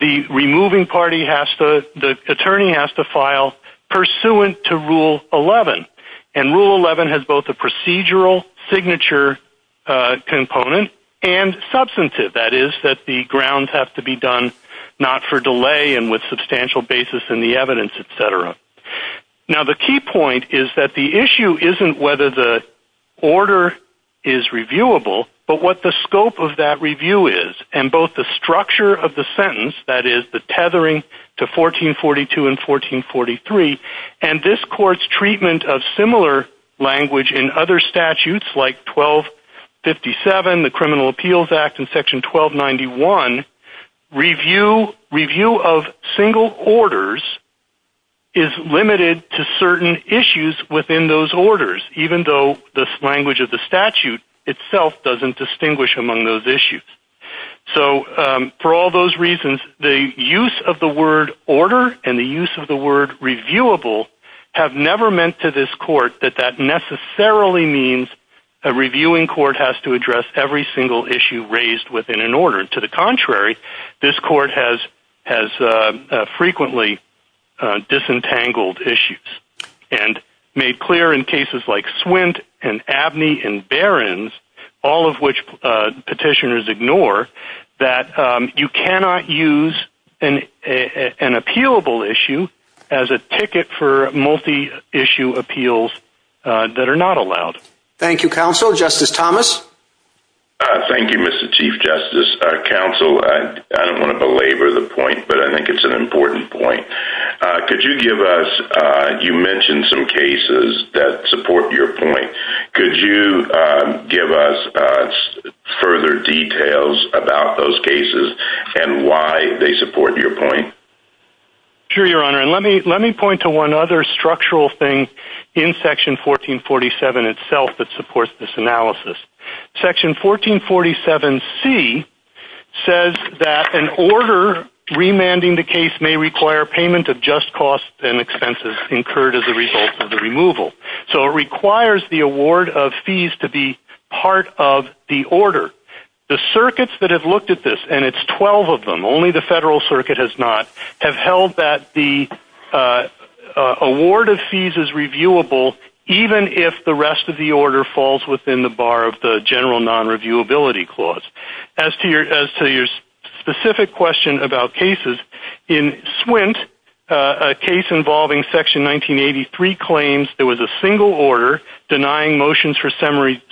the removing party has to, the attorney has to file pursuant to Rule 11. And Rule 11 has both a procedural signature component and substantive. That is, that the grounds have to be done not for delay and with substantial basis in the evidence, et cetera. Now the key point is that the issue isn't whether the order is reviewable, but what the scope of that review is, and both the structure of the sentence, that is, the tethering to 1442 and 1443, and this court's treatment of similar language in other statutes like 1257, the Criminal Appeals Act, and section 1291, review of single orders is limited to certain issues within those orders, even though the language of the statute itself doesn't distinguish among those issues. So for all those reasons, the use of the word order and the use of the word reviewable have never meant to this court that that necessarily means a reviewing court has to address every single issue raised within an order. To the contrary, this court has frequently disentangled issues and made clear in cases like Swint and Abney and Barron's, all of which petitioners ignore, that you cannot use an appealable issue as a ticket for multi-issue appeals that are not allowed. Thank you, counsel. Justice Thomas? Thank you, Mr. Chief Justice, counsel. I don't want to belabor the point, but I think it's an important point. Could you give us, you mentioned some cases that support your point. Could you give us further details about those cases and why they support your point? Sure, Your Honor, and let me point to one other structural thing in section 1447 itself that supports this analysis. Section 1447C says that an order remanding the case may require payment of just costs and expenses incurred as a result of the removal. So it requires the award of fees to be part of the order. The circuits that have looked at this, and it's 12 of them, only the federal circuit has not, have held that the award of fees is reviewable even if the rest of the order falls within the bar of the general non-reviewability clause. As to your specific question about cases, in Swint, a case involving section 1983 claims there was a single order denying motions for summary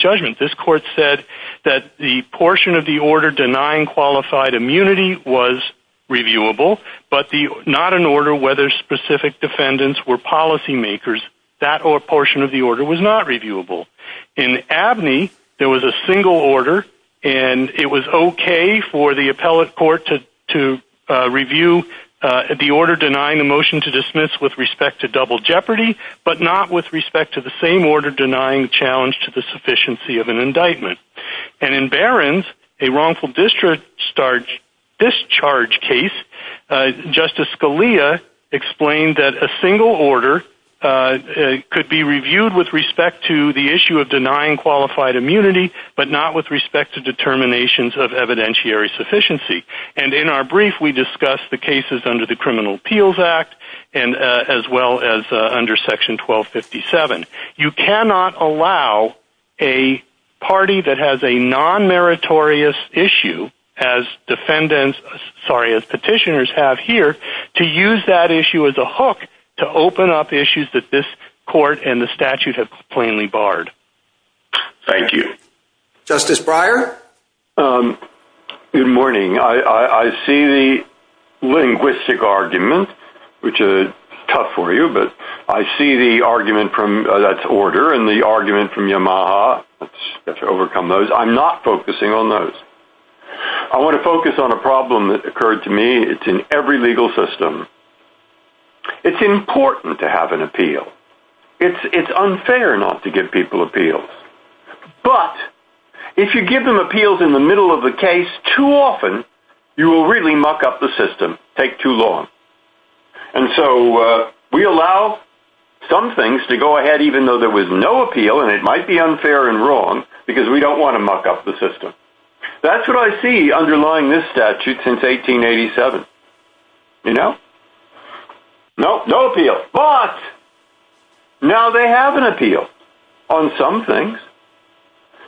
judgment. This court said that the portion of the order denying qualified immunity was reviewable, but not an order whether specific defendants were policy makers. That portion of the order was not reviewable. In Abney, there was a single order, and it was okay for the appellate court to review the order denying a motion to dismiss with respect to double jeopardy, but not with respect to the same order denying challenge to the sufficiency of an indictment. And in Barron's, a wrongful discharge case, Justice Scalia explained that a single order could be reviewed with respect to the issue of denying qualified immunity, but not with respect to determinations of evidentiary sufficiency. And in our brief, we discussed the cases under the Criminal Appeals Act, as well as under section 1257. You cannot allow a party that has a non-meritorious issue, as petitioners have here, to use that issue as a hook to open up issues that this court and the statute have plainly barred. Thank you. Justice Breyer? Good morning. I see the linguistic argument, which is tough for you, but I see the argument from, that's order, and the argument from Yamaha, which is to overcome those. I'm not focusing on those. I want to focus on a problem that occurred to me. It's in every legal system. It's important to have an appeal. It's unfair not to give people appeals. But, if you give them appeals in the middle of the case, too often, you will really muck up the system, take too long. And so, we allow some things to go ahead, even though there was no appeal, and it might be unfair and wrong, because we don't want to muck up the system. That's what I see underlying this statute since 1887, you know? Nope, no appeal. But, now they have an appeal on some things,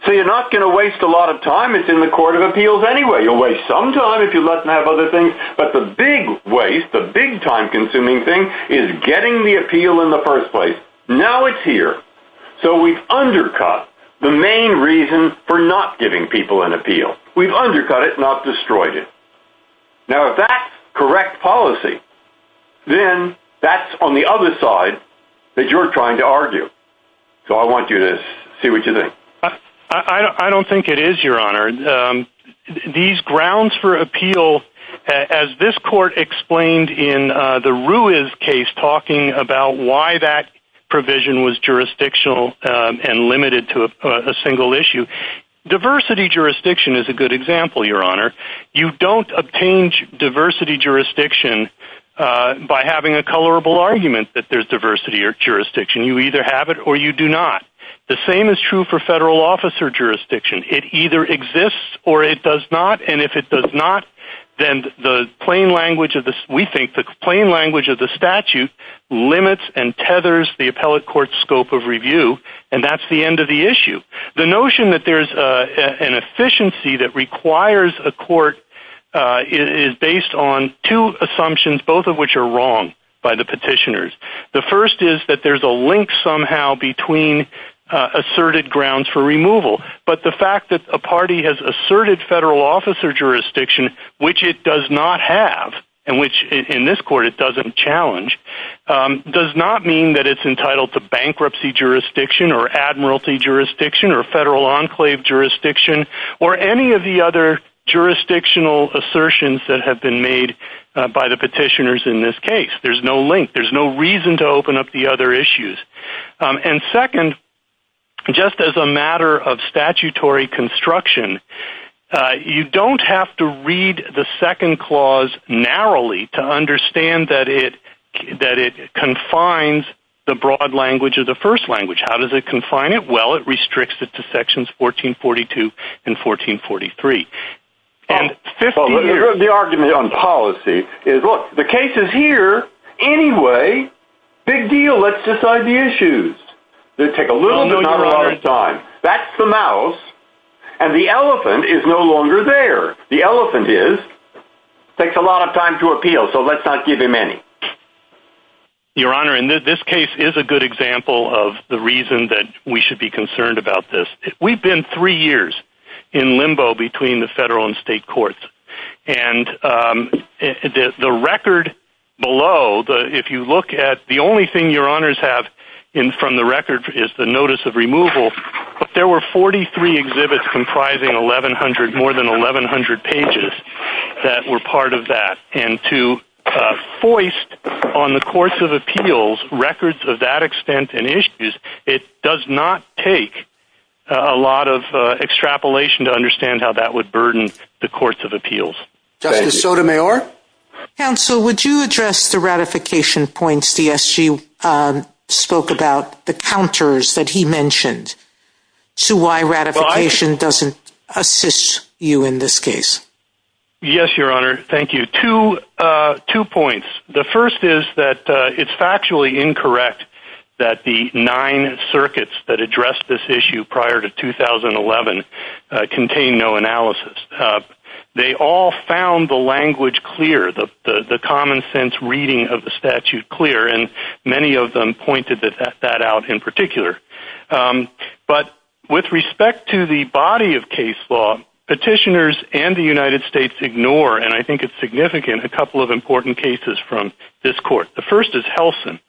so you're not going to waste a lot of time. It's in the Court of Appeals anyway. You'll waste some time if you let them have other things, but the big waste, the big time-consuming thing is getting the appeal in the first place. Now it's here, so we've undercut the main reason for not giving people an appeal. We've undercut it, not destroyed it. Now, if that's correct policy, then that's on the other side that you're trying to argue. So, I want you to see what you think. I don't think it is, Your Honor. These grounds for appeal, as this court explained in the Ruiz case, talking about why that provision was jurisdictional and limited to a single issue, diversity jurisdiction is a good example, Your Honor. You don't obtain diversity jurisdiction by having a colorable argument that there's diversity jurisdiction. You either have it or you do not. The same is true for federal officer jurisdiction. It either exists or it does not, and if it does not, then the plain language of the statute limits and tethers the appellate court's scope of review, and that's the end of the issue. The notion that there's an efficiency that requires a court is based on two assumptions, both of which are wrong by the petitioners. The first is that there's a link somehow between asserted grounds for removal, but the fact that a party has asserted federal officer jurisdiction, which it does not have, and which in this court it doesn't challenge, does not mean that it's entitled to bankruptcy jurisdiction or admiralty jurisdiction or federal enclave jurisdiction or any of the other jurisdictional assertions that have been made by the petitioners in this case. There's no link. There's no reason to open up the other issues, and second, just as a matter of statutory construction, you don't have to read the second clause narrowly to understand that it confines the broad language of the first language. How does it confine it? Well, it restricts it to sections 1442 and 1443. Well, let me review the argument on policy. The case is here anyway. Big deal. Let's decide the issues. They take a little bit of time. That's the mouse, and the elephant is no longer there. The elephant is, takes a lot of time to appeal, so let's not give him any. Well, Your Honor, in this case is a good example of the reason that we should be concerned about this. We've been three years in limbo between the federal and state courts, and the record below, if you look at the only thing Your Honors have from the record is the notice of removal, but there were 43 exhibits comprising 1100, more than 1100 pages that were part of that, and to foist on the courts of appeals records of that extent and issues, it does not take a lot of extrapolation to understand how that would burden the courts of appeals. Justice Sotomayor? Counsel, would you address the ratification points CSG spoke about, the counters that he mentioned, to why ratification doesn't assist you in this case? Yes, Your Honor. Thank you. Two points. The first is that it's factually incorrect that the nine circuits that addressed this issue prior to 2011 contain no analysis. They all found the language clear, the common sense reading of the statute clear, and many of them pointed that out in particular, but with respect to the body of case law, petitioners and the United States ignore, and I think it's significant, a couple of important cases from this court. The first is Helsin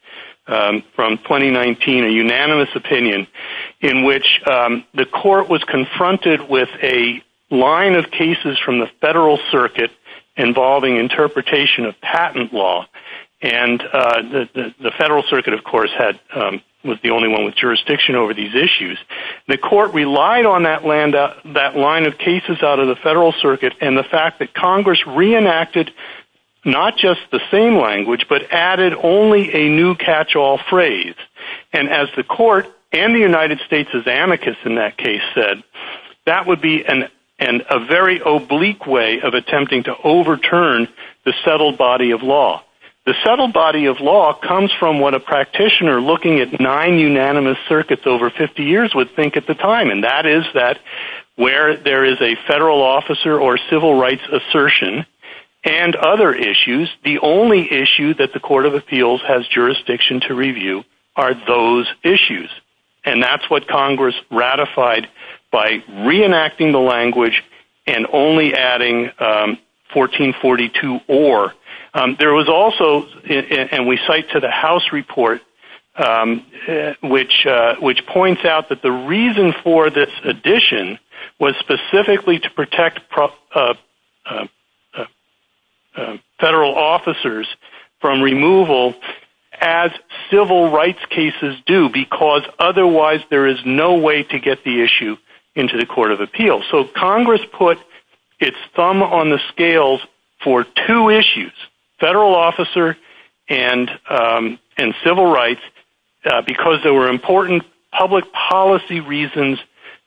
from 2019, a unanimous opinion in which the court was confronted with a line of cases from the federal circuit involving interpretation of patent law, and the federal circuit, of course, was the only one with jurisdiction over these issues. The court relied on that line of cases out of the federal circuit, and the fact that Congress reenacted not just the same language, but added only a new catch-all phrase, and as the court and the United States' amicus in that case said, that would be a very oblique way of attempting to overturn the settled body of law. The settled body of law comes from what a practitioner looking at nine unanimous circuits over 50 years would think at the time, and that is that where there is a federal officer or civil rights assertion and other issues, the only issue that the court of appeals has jurisdiction to review are those issues, and that's what Congress ratified by reenacting the language and only adding 1442 or. There was also, and we cite to the House report, which points out that the reason for this addition was specifically to protect federal officers from removal as civil rights cases do, because otherwise there is no way to get the issue into the court of appeals. Congress put its thumb on the scales for two issues, federal officer and civil rights, because there were important public policy reasons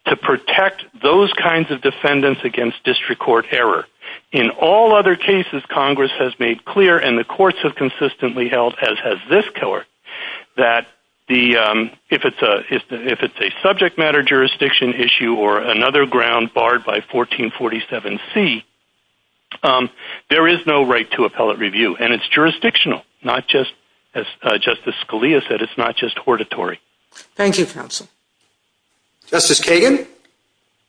to protect those kinds of defendants against district court error. In all other cases, Congress has made clear, and the courts have consistently held, as this killer, that if it's a subject matter jurisdiction issue or another ground barred by 1447C, there is no right to appellate review, and it's jurisdictional, not just, as Justice Scalia said, it's not just hortatory. Thank you, counsel. Justice Kagan?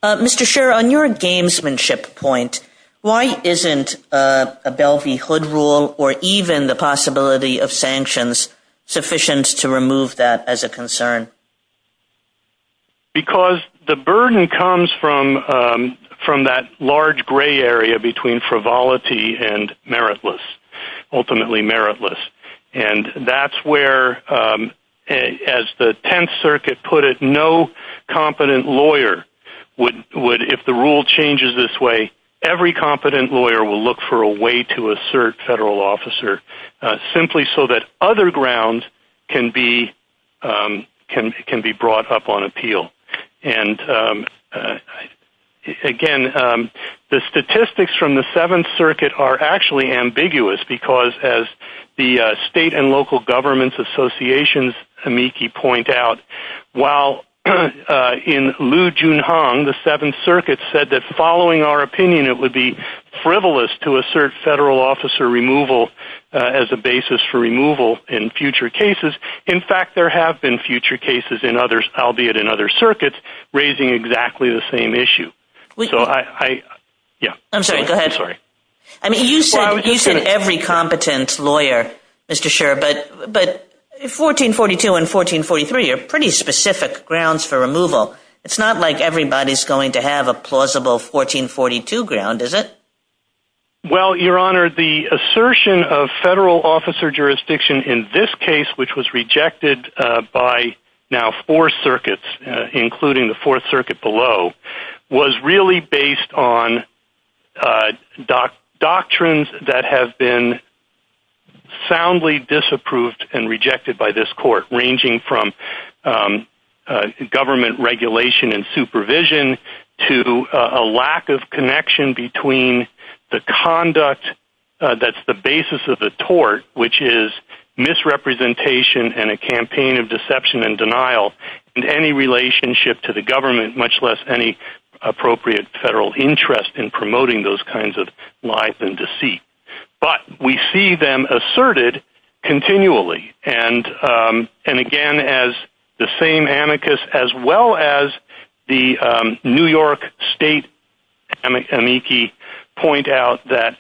Mr. Scherer, on your gamesmanship point, why isn't a Belle v. Hood rule or even the possibility of sanctions sufficient to remove that as a concern? Because the burden comes from that large gray area between frivolity and meritless, ultimately meritless, and that's where, as the Tenth Circuit put it, no competent lawyer would, if the rule changes this way, every competent lawyer will look for a way to assert federal officer, simply so that other grounds can be brought up on appeal. And, again, the statistics from the Seventh Circuit are actually ambiguous, because, as the state and local governments' associations' amici point out, while in Liu Junhong, the Seventh Circuit said that, following our opinion, it would be frivolous to assert federal officer as a basis for removal in future cases. In fact, there have been future cases in others, albeit in other circuits, raising exactly the same issue. So I, yeah. I'm sorry, go ahead. I'm sorry. I mean, you said every competent lawyer, Mr. Scherer, but 1442 and 1443 are pretty specific grounds for removal. It's not like everybody's going to have a plausible 1442 ground, is it? Well, Your Honor, the assertion of federal officer jurisdiction in this case, which was rejected by now four circuits, including the Fourth Circuit below, was really based on doctrines that have been soundly disapproved and rejected by this court, ranging from government regulation and supervision to a lack of connection between the conduct that's the basis of the tort, which is misrepresentation and a campaign of deception and denial, and any relationship to the government, much less any appropriate federal interest in promoting those kinds of lies and deceit. But we see them asserted continually. And again, as the same amicus, as well as the New York State amici point out that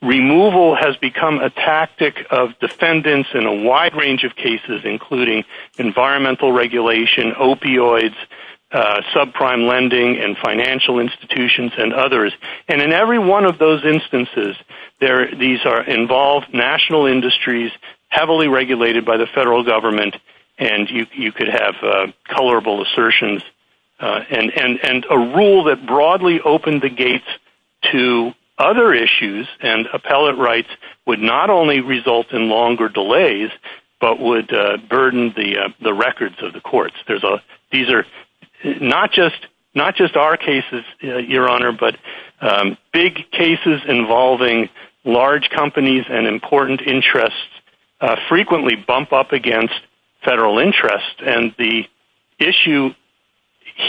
removal has become a tactic of defendants in a wide range of cases, including environmental regulation, opioids, subprime lending and financial institutions and others. And in every one of those instances, these are involved national industries heavily regulated by the federal government. And you could have colorable assertions and a rule that broadly opened the gates to other issues and appellate rights would not only result in longer delays, but would burden the records of the courts. These are not just our cases, Your Honor, but big cases involving large companies and important interests frequently bump up against federal interest. And the issue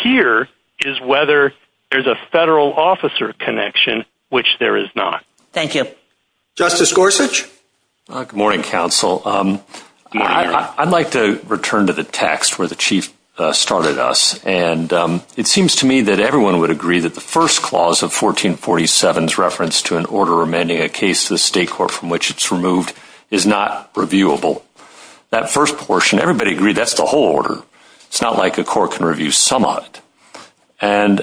here is whether there's a federal officer connection, which there is not. Thank you. Justice Gorsuch. Good morning, counsel. I'd like to return to the text where the chief started us. And it seems to me that everyone would agree that the first clause of 1447 is reference to an order amending a case to the state court from which it's removed is not reviewable. That first portion, everybody agreed that's the whole order. It's not like a court can review some of it. And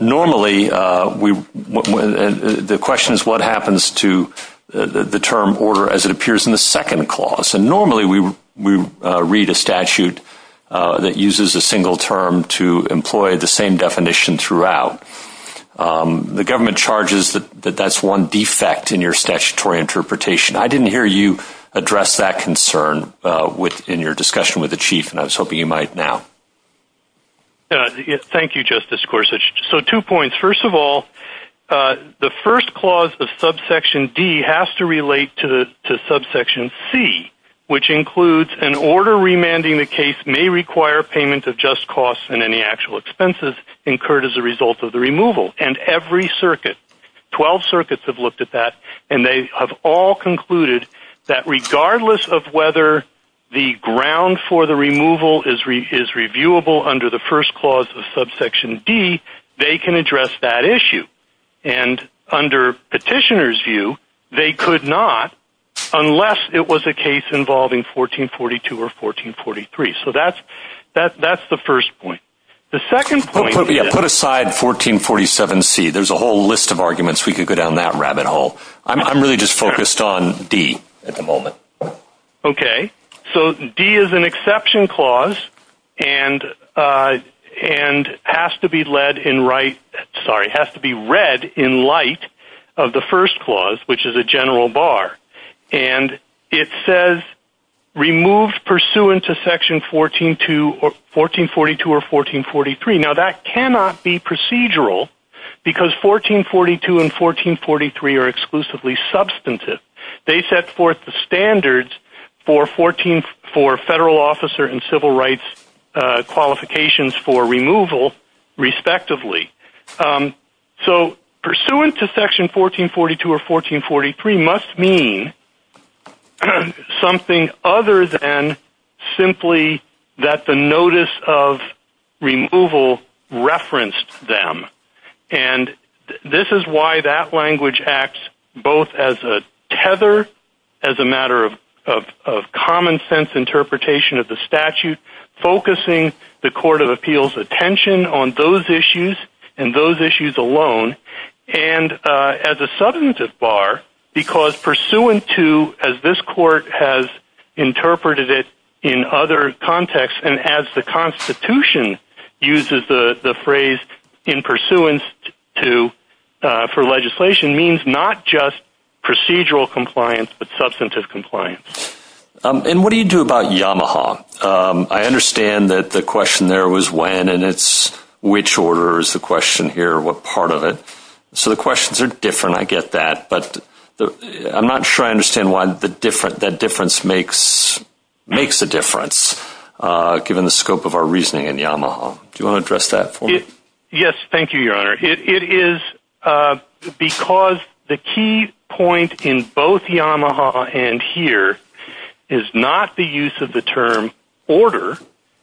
normally, the question is what happens to the term order as it appears in the second clause. And normally, we read a statute that uses a single term to employ the same definition throughout. The government charges that that's one defect in your statutory interpretation. I didn't hear you address that concern within your discussion with the chief. And I was hoping you might now. Thank you, Justice Gorsuch. So two points. First of all, the first clause of subsection D has to relate to subsection C, which includes an order remanding a case may require payment of just costs and any actual expenses incurred as a result of the removal. And every circuit, 12 circuits have looked at that, and they have all concluded that the ground for the removal is reviewable under the first clause of subsection D. They can address that issue. And under petitioners' view, they could not unless it was a case involving 1442 or 1443. So that's the first point. The second point is- Put aside 1447C. There's a whole list of arguments we could go down that rabbit hole. I'm really just focused on D at the moment. Okay. So D is an exception clause and has to be read in light of the first clause, which is a general bar. And it says, removed pursuant to section 1442 or 1443. Now, that cannot be procedural because 1442 and 1443 are exclusively substantive. They set forth the standards for federal officer and civil rights qualifications for removal respectively. So pursuant to section 1442 or 1443 must mean something other than simply that the notice of removal referenced them. And this is why that language acts both as a tether, as a matter of common sense interpretation of the statute, focusing the court of appeals attention on those issues and those issues alone. And as a substantive bar, because pursuant to, as this court has interpreted it in other contexts, and as the constitution uses the phrase in pursuant to, for legislation, means not just procedural compliance, but substantive compliance. And what do you do about Yamaha? I understand that the question there was when, and it's which order is the question here, what part of it. So the questions are different. I get that. But I'm not sure I understand why that difference makes a difference. Given the scope of our reasoning in Yamaha. Do you want to address that? Thank you, Your Honor. It is because the key point in both Yamaha and here is not the use of the term order,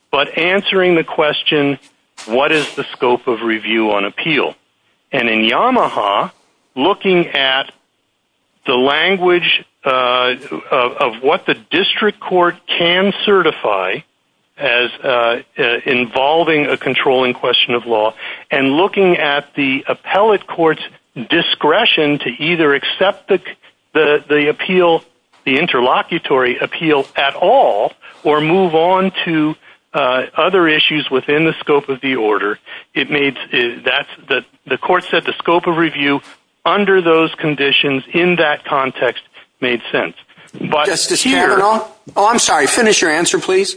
but answering the question, what is the scope of review on appeal? And in Yamaha, looking at the language of what the district court can certify as involving a controlling question of law, and looking at the appellate court's discretion to either accept the appeal, the interlocutory appeal at all, or move on to other issues within the scope of the order, the court said the scope of review under those conditions in that context made sense. Justice Chamberlain? Oh, I'm sorry. Finish your answer, please.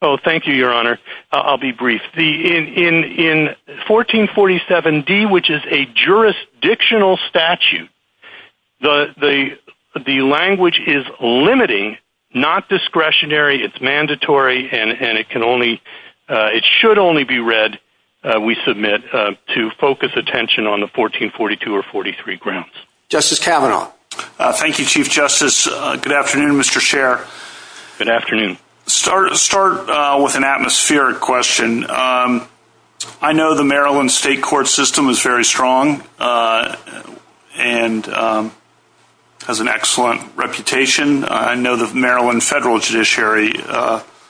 Oh, thank you, Your Honor. I'll be brief. In 1447D, which is a jurisdictional statute, the language is limiting, not discretionary. It's mandatory, and it should only be read, we submit, to focus attention on the 1442 or 1443 grounds. Justice Kavanaugh? Thank you, Chief Justice. Good afternoon, Mr. Chair. Good afternoon. Start with an atmospheric question. I know the Maryland state court system is very strong and has an excellent reputation. I know the Maryland federal judiciary,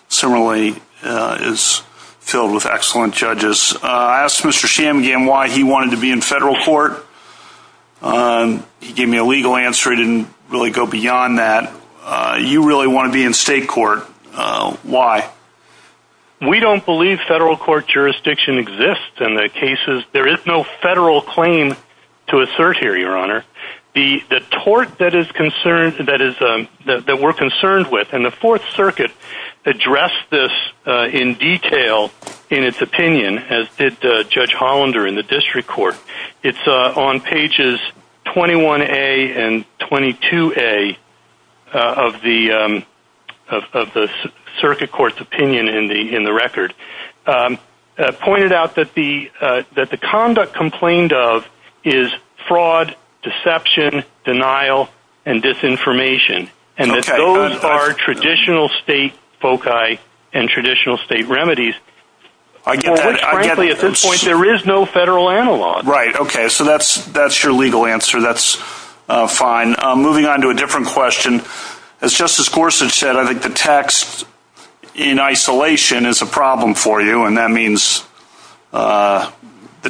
similarly, is filled with excellent judges. I asked Mr. Shanmugam why he wanted to be in federal court. He gave me a legal answer. He didn't really go beyond that. You really want to be in state court. Why? We don't believe federal court jurisdiction exists in the cases. There is no federal claim to assert here, Your Honor. The tort that we're concerned with, and the fourth circuit addressed this in detail in its opinion, as did Judge Hollander in the district court. It's on pages 21A and 22A of the circuit court's opinion in the record. It pointed out that the conduct complained of is fraud, deception, denial, and disinformation, and that those are traditional state foci and traditional state remedies. At this point, there is no federal analog. Right. Okay. So that's your legal answer. That's fine. Moving on to a different question. As Justice Gorsuch said, I think the text in isolation is a problem for you, and that means the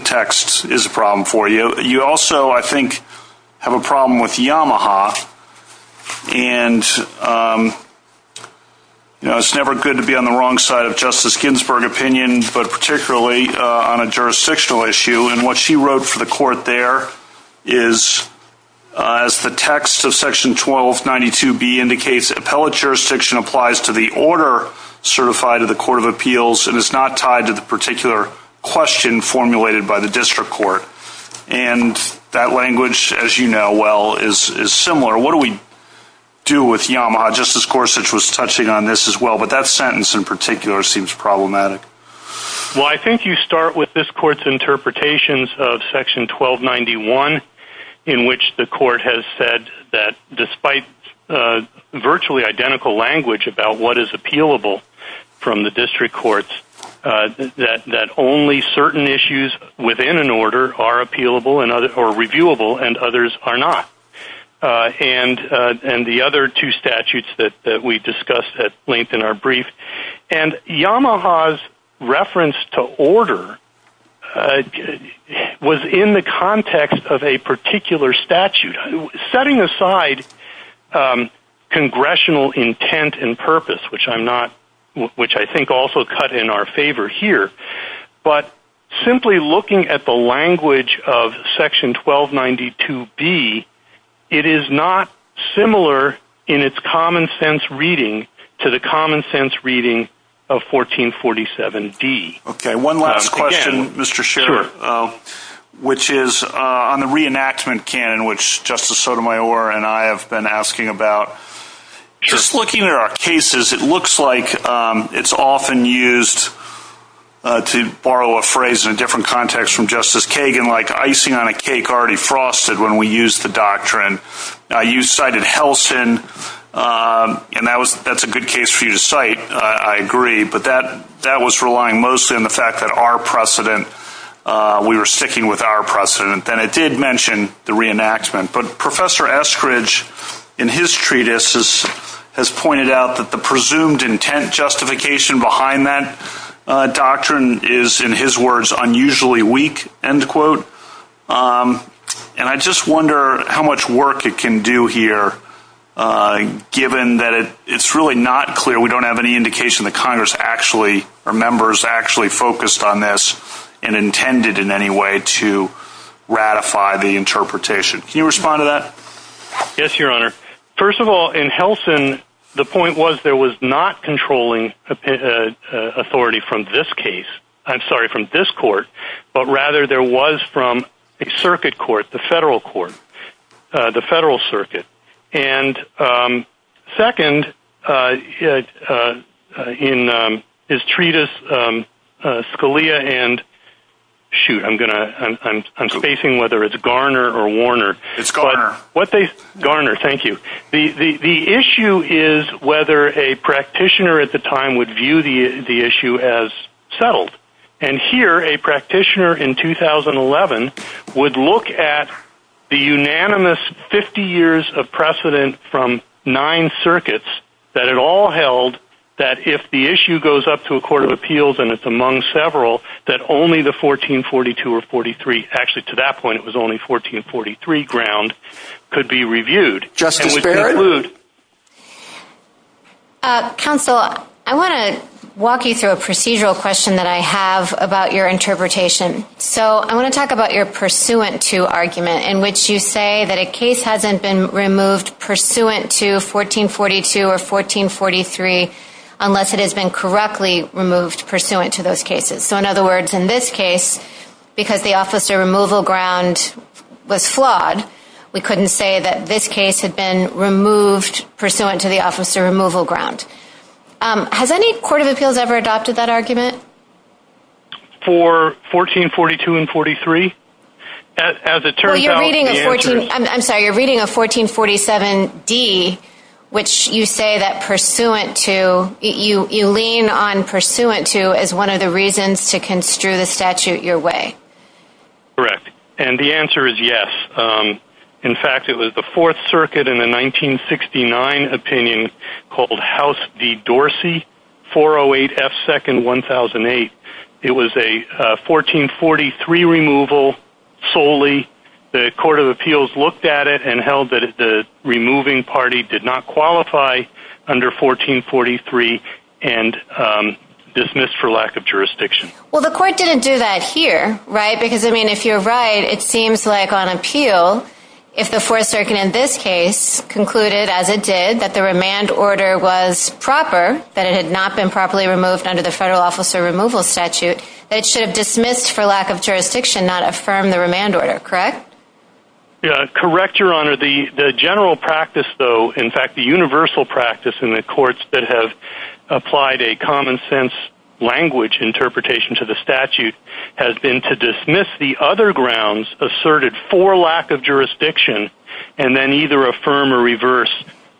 text is a problem for you. You also, I think, have a problem with Yamaha, and it's never good to be on the wrong side of Justice Ginsburg's opinion, but particularly on a jurisdictional issue. What she wrote for the court there is, as the text of section 1292B indicates, appellate jurisdiction applies to the order certified to the court of appeals and is not tied to the particular question formulated by the district court. That language, as you know well, is similar. What do we do with Yamaha? Justice Gorsuch was touching on this as well, but that sentence in particular seems problematic. Well, I think you start with this court's interpretations of section 1291 in which the court has said that despite virtually identical language about what is appealable from the district courts, that only certain issues within an order are appealable or reviewable and others are not, and the other two statutes that we discussed at length in our brief. And Yamaha's reference to order was in the context of a particular statute, setting aside congressional intent and purpose, which I think also cut in our favor here, but simply looking at the language of section 1292B, it is not similar in its common sense reading to the common sense reading of 1447D. Okay. One last question, Mr. Schiff, which is on the reenactment canon, which Justice Sotomayor and I have been asking about. Just looking at our cases, it looks like it's often used, to borrow a phrase in a different context from Justice Kagan, like icing on a cake already frosted when we use the doctrine. You cited Helston, and that's a good case for you to cite, I agree, but that was relying most in the fact that our precedent, we were sticking with our precedent. And I did mention the reenactment, but Professor Eskridge in his treatise has pointed out that the presumed intent justification behind that doctrine is, in his words, unusually weak, end quote. And I just wonder how much work it can do here, given that it's really not clear, we don't have any indication that Congress actually, or members actually focused on this and intended in any way to ratify the interpretation. Can you respond to that? Yes, Your Honor. First of all, in Helston, the point was there was not controlling authority from this case, I'm sorry, from this court, but rather there was from a circuit court, the federal court, the federal circuit. And second, in his treatise, Scalia and, shoot, I'm spacing whether it's Garner or Warner. It's Garner. What they, Garner, thank you. The issue is whether a practitioner at the time would view the issue as settled. And here, a practitioner in 2011 would look at the unanimous 50 years of precedent from nine circuits that it all held, that if the issue goes up to a court of appeals, and it's among several, that only the 1442 or 43, actually, to that point, it was only 1443 ground could be reviewed. Just to conclude. Counsel, I want to walk you through a procedural question that I have about your interpretation. So, I want to talk about your pursuant to argument in which you say that a case hasn't been removed pursuant to 1442 or 1443 unless it has been correctly removed pursuant to those cases. So, in other words, in this case, because the officer removal ground was flawed, we have been removed pursuant to the officer removal ground. Has any court of appeals ever adopted that argument? For 1442 and 43? As it turns out, I'm sorry, you're reading a 1447D, which you say that pursuant to, you lean on pursuant to as one of the reasons to construe the statute your way. Correct. And the answer is yes. In fact, it was the Fourth Circuit in the 1969 opinion called House v. Dorsey, 408 F 2nd, 1008. It was a 1443 removal solely. The court of appeals looked at it and held that the removing party did not qualify under 1443 and dismissed for lack of jurisdiction. Well, the court didn't do that here, right? Because, I mean, if you're right, it seems like on appeal, if the Fourth Circuit in this case concluded, as it did, that the remand order was proper, that it had not been properly removed under the federal officer removal statute, it should have dismissed for lack of jurisdiction, not affirmed the remand order, correct? Yeah, correct, Your Honor. The general practice, though, in fact, the universal practice in the courts that have language interpretation to the statute has been to dismiss the other grounds asserted for lack of jurisdiction and then either affirm or reverse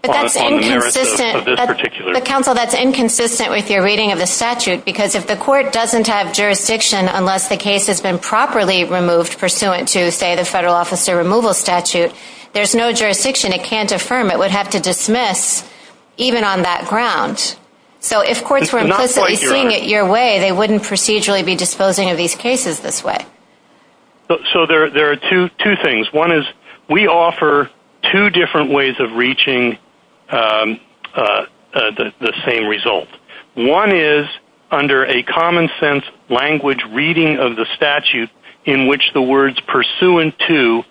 on the merits of this particular. But, counsel, that's inconsistent with your reading of the statute because if the court doesn't have jurisdiction unless the case has been properly removed pursuant to, say, the federal officer removal statute, there's no jurisdiction. It can't affirm. It would have to dismiss even on that ground. So if courts were implicitly doing it your way, they wouldn't procedurally be disposing of these cases this way. So there are two things. One is we offer two different ways of reaching the same result. One is under a common sense language reading of the statute in which the words pursuant to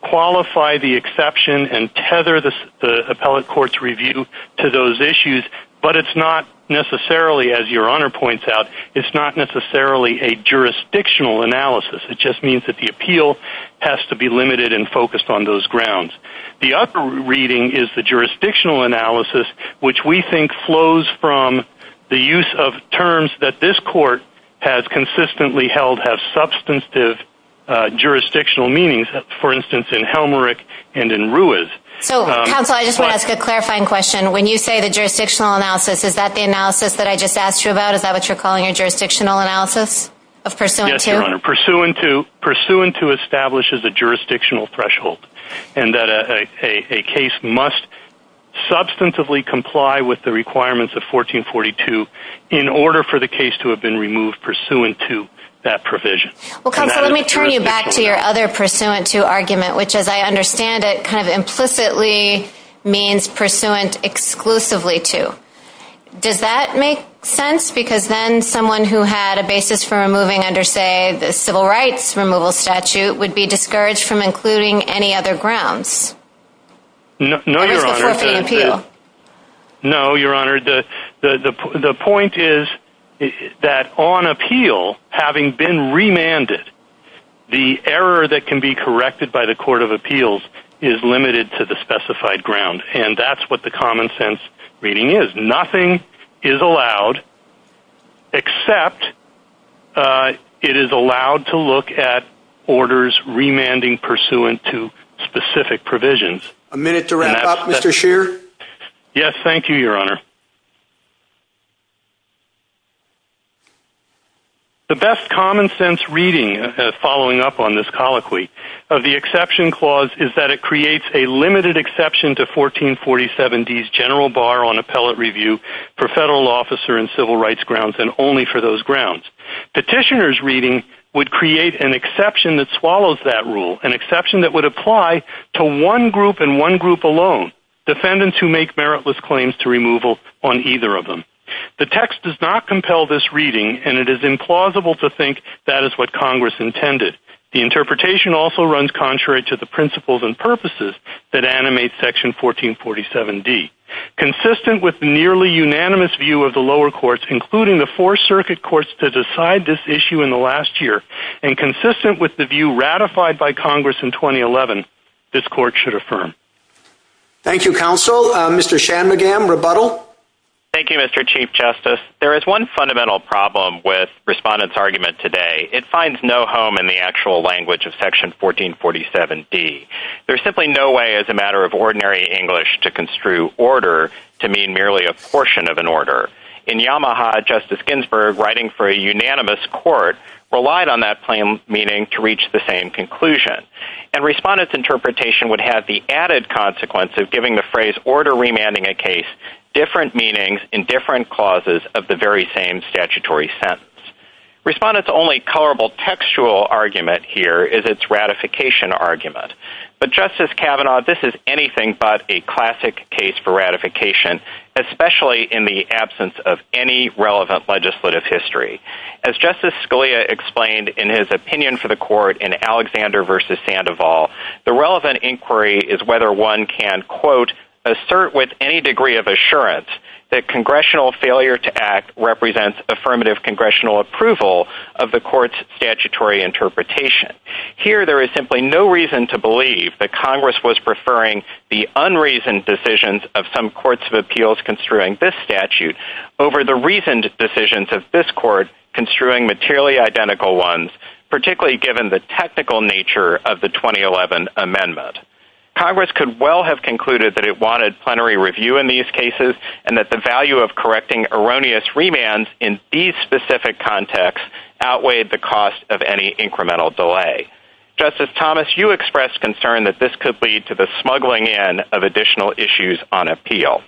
qualify the exception and tether the appellate court's review to those issues. But it's not necessarily, as Your Honor points out, it's not necessarily a jurisdictional analysis. It just means that the appeal has to be limited and focused on those grounds. The other reading is the jurisdictional analysis, which we think flows from the use of terms that this court has consistently held have substantive jurisdictional meanings, for instance, in Helmerick and in Ruiz. So, counsel, I just want to ask a clarifying question. When you say the jurisdictional analysis, is that the analysis that I just asked you about? Is that what you're calling a jurisdictional analysis of pursuant to? Yes, Your Honor. Pursuant to establishes a jurisdictional threshold and that a case must substantively comply with the requirements of 1442 in order for the case to have been removed pursuant to that provision. Well, counsel, let me turn you back to your other pursuant to argument, which, as I understand it, kind of implicitly means pursuant exclusively to. Does that make sense? Because then someone who had a basis for removing under, say, the civil rights removal statute No, Your Honor. The point is that on appeal, having been remanded, the error that can be corrected by the Court of Appeals is limited to the specified ground. And that's what the common sense reading is. Nothing is allowed except it is allowed to look at orders remanding pursuant to specific provisions. A minute to wrap up, Mr. Scheer. Yes, thank you, Your Honor. The best common sense reading following up on this colloquy of the exception clause is that it creates a limited exception to 1447D's general bar on appellate review for federal officer and civil rights grounds and only for those grounds. Petitioner's reading would create an exception that swallows that rule, an exception that would apply to one group and one group alone, defendants who make meritless claims to removal on either of them. The text does not compel this reading, and it is implausible to think that is what Congress intended. The interpretation also runs contrary to the principles and purposes that animate section 1447D. Consistent with nearly unanimous view of the lower courts, including the four circuit courts to decide this issue in the last year, and consistent with the view ratified by Congress in 2011, this court should affirm. Thank you, Counsel. Mr. Shanmugam, rebuttal. Thank you, Mr. Chief Justice. There is one fundamental problem with Respondent's argument today. It finds no home in the actual language of section 1447D. There's simply no way as a matter of ordinary English to construe order to mean merely a portion of an order. In Yamaha, Justice Ginsburg, writing for a unanimous court, relied on that plain meaning to reach the same conclusion. And Respondent's interpretation would have the added consequence of giving the phrase order remanding a case different meanings in different clauses of the very same statutory sentence. Respondent's only colorable textual argument here is its ratification argument. But Justice Kavanaugh, this is anything but a classic case for ratification, especially in the absence of any relevant legislative history. As Justice Scalia explained in his opinion for the court in Alexander v. Sandoval, the relevant inquiry is whether one can, quote, assert with any degree of assurance that congressional failure to act represents affirmative congressional approval of the court's statutory interpretation. Here, there is simply no reason to believe that Congress was preferring the unreasoned decisions of some courts of appeals construing this statute over the reasoned decisions of this court construing materially identical ones, particularly given the technical nature of the 2011 amendment. Congress could well have concluded that it wanted plenary review in these cases and that the value of correcting erroneous remands in these specific contexts outweighed the cost of any incremental delay. Justice Thomas, you expressed concern that this could lead to the smuggling in of additional issues on appeal.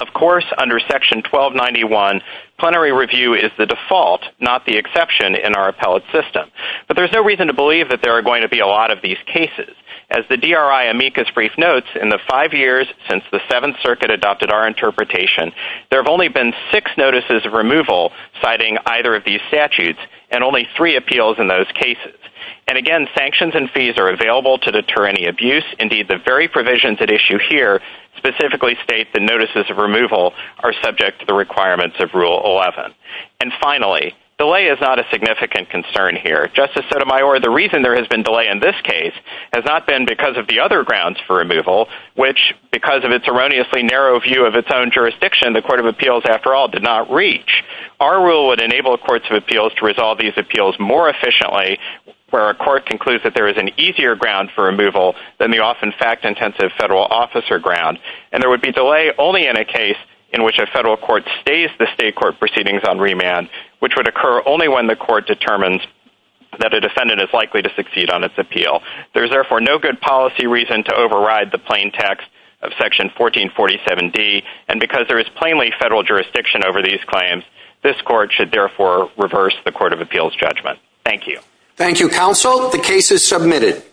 Of course, under section 1291, plenary review is the default, not the exception in our appellate system. But there's no reason to believe that there are going to be a lot of these cases. As the DRI amicus brief notes, in the five years since the Seventh Circuit adopted our interpretation, there have only been six notices of removal citing either of these statutes and only three appeals in those cases. And again, sanctions and fees are available to deter any abuse. Indeed, the very provisions at issue here specifically state the notices of removal are subject to the requirements of Rule 11. And finally, delay is not a significant concern here. Justice Sotomayor, the reason there has been delay in this case has not been because of the other grounds for removal, which because of its erroneously narrow view of its own jurisdiction, the Court of Appeals, after all, did not reach. Our rule would enable courts of appeals to resolve these appeals more efficiently where a court concludes that there is an easier ground for removal than the often fact-intensive federal officer ground. And there would be delay only in a case in which a federal court stays the state court proceedings on remand, which would occur only when the court determines that a defendant is likely to succeed on its appeal. There is therefore no good policy reason to override the plain text of Section 1447D. And because there is plainly federal jurisdiction over these claims, this court should therefore reverse the Court of Appeals judgment. Thank you. Thank you, counsel. The case is submitted.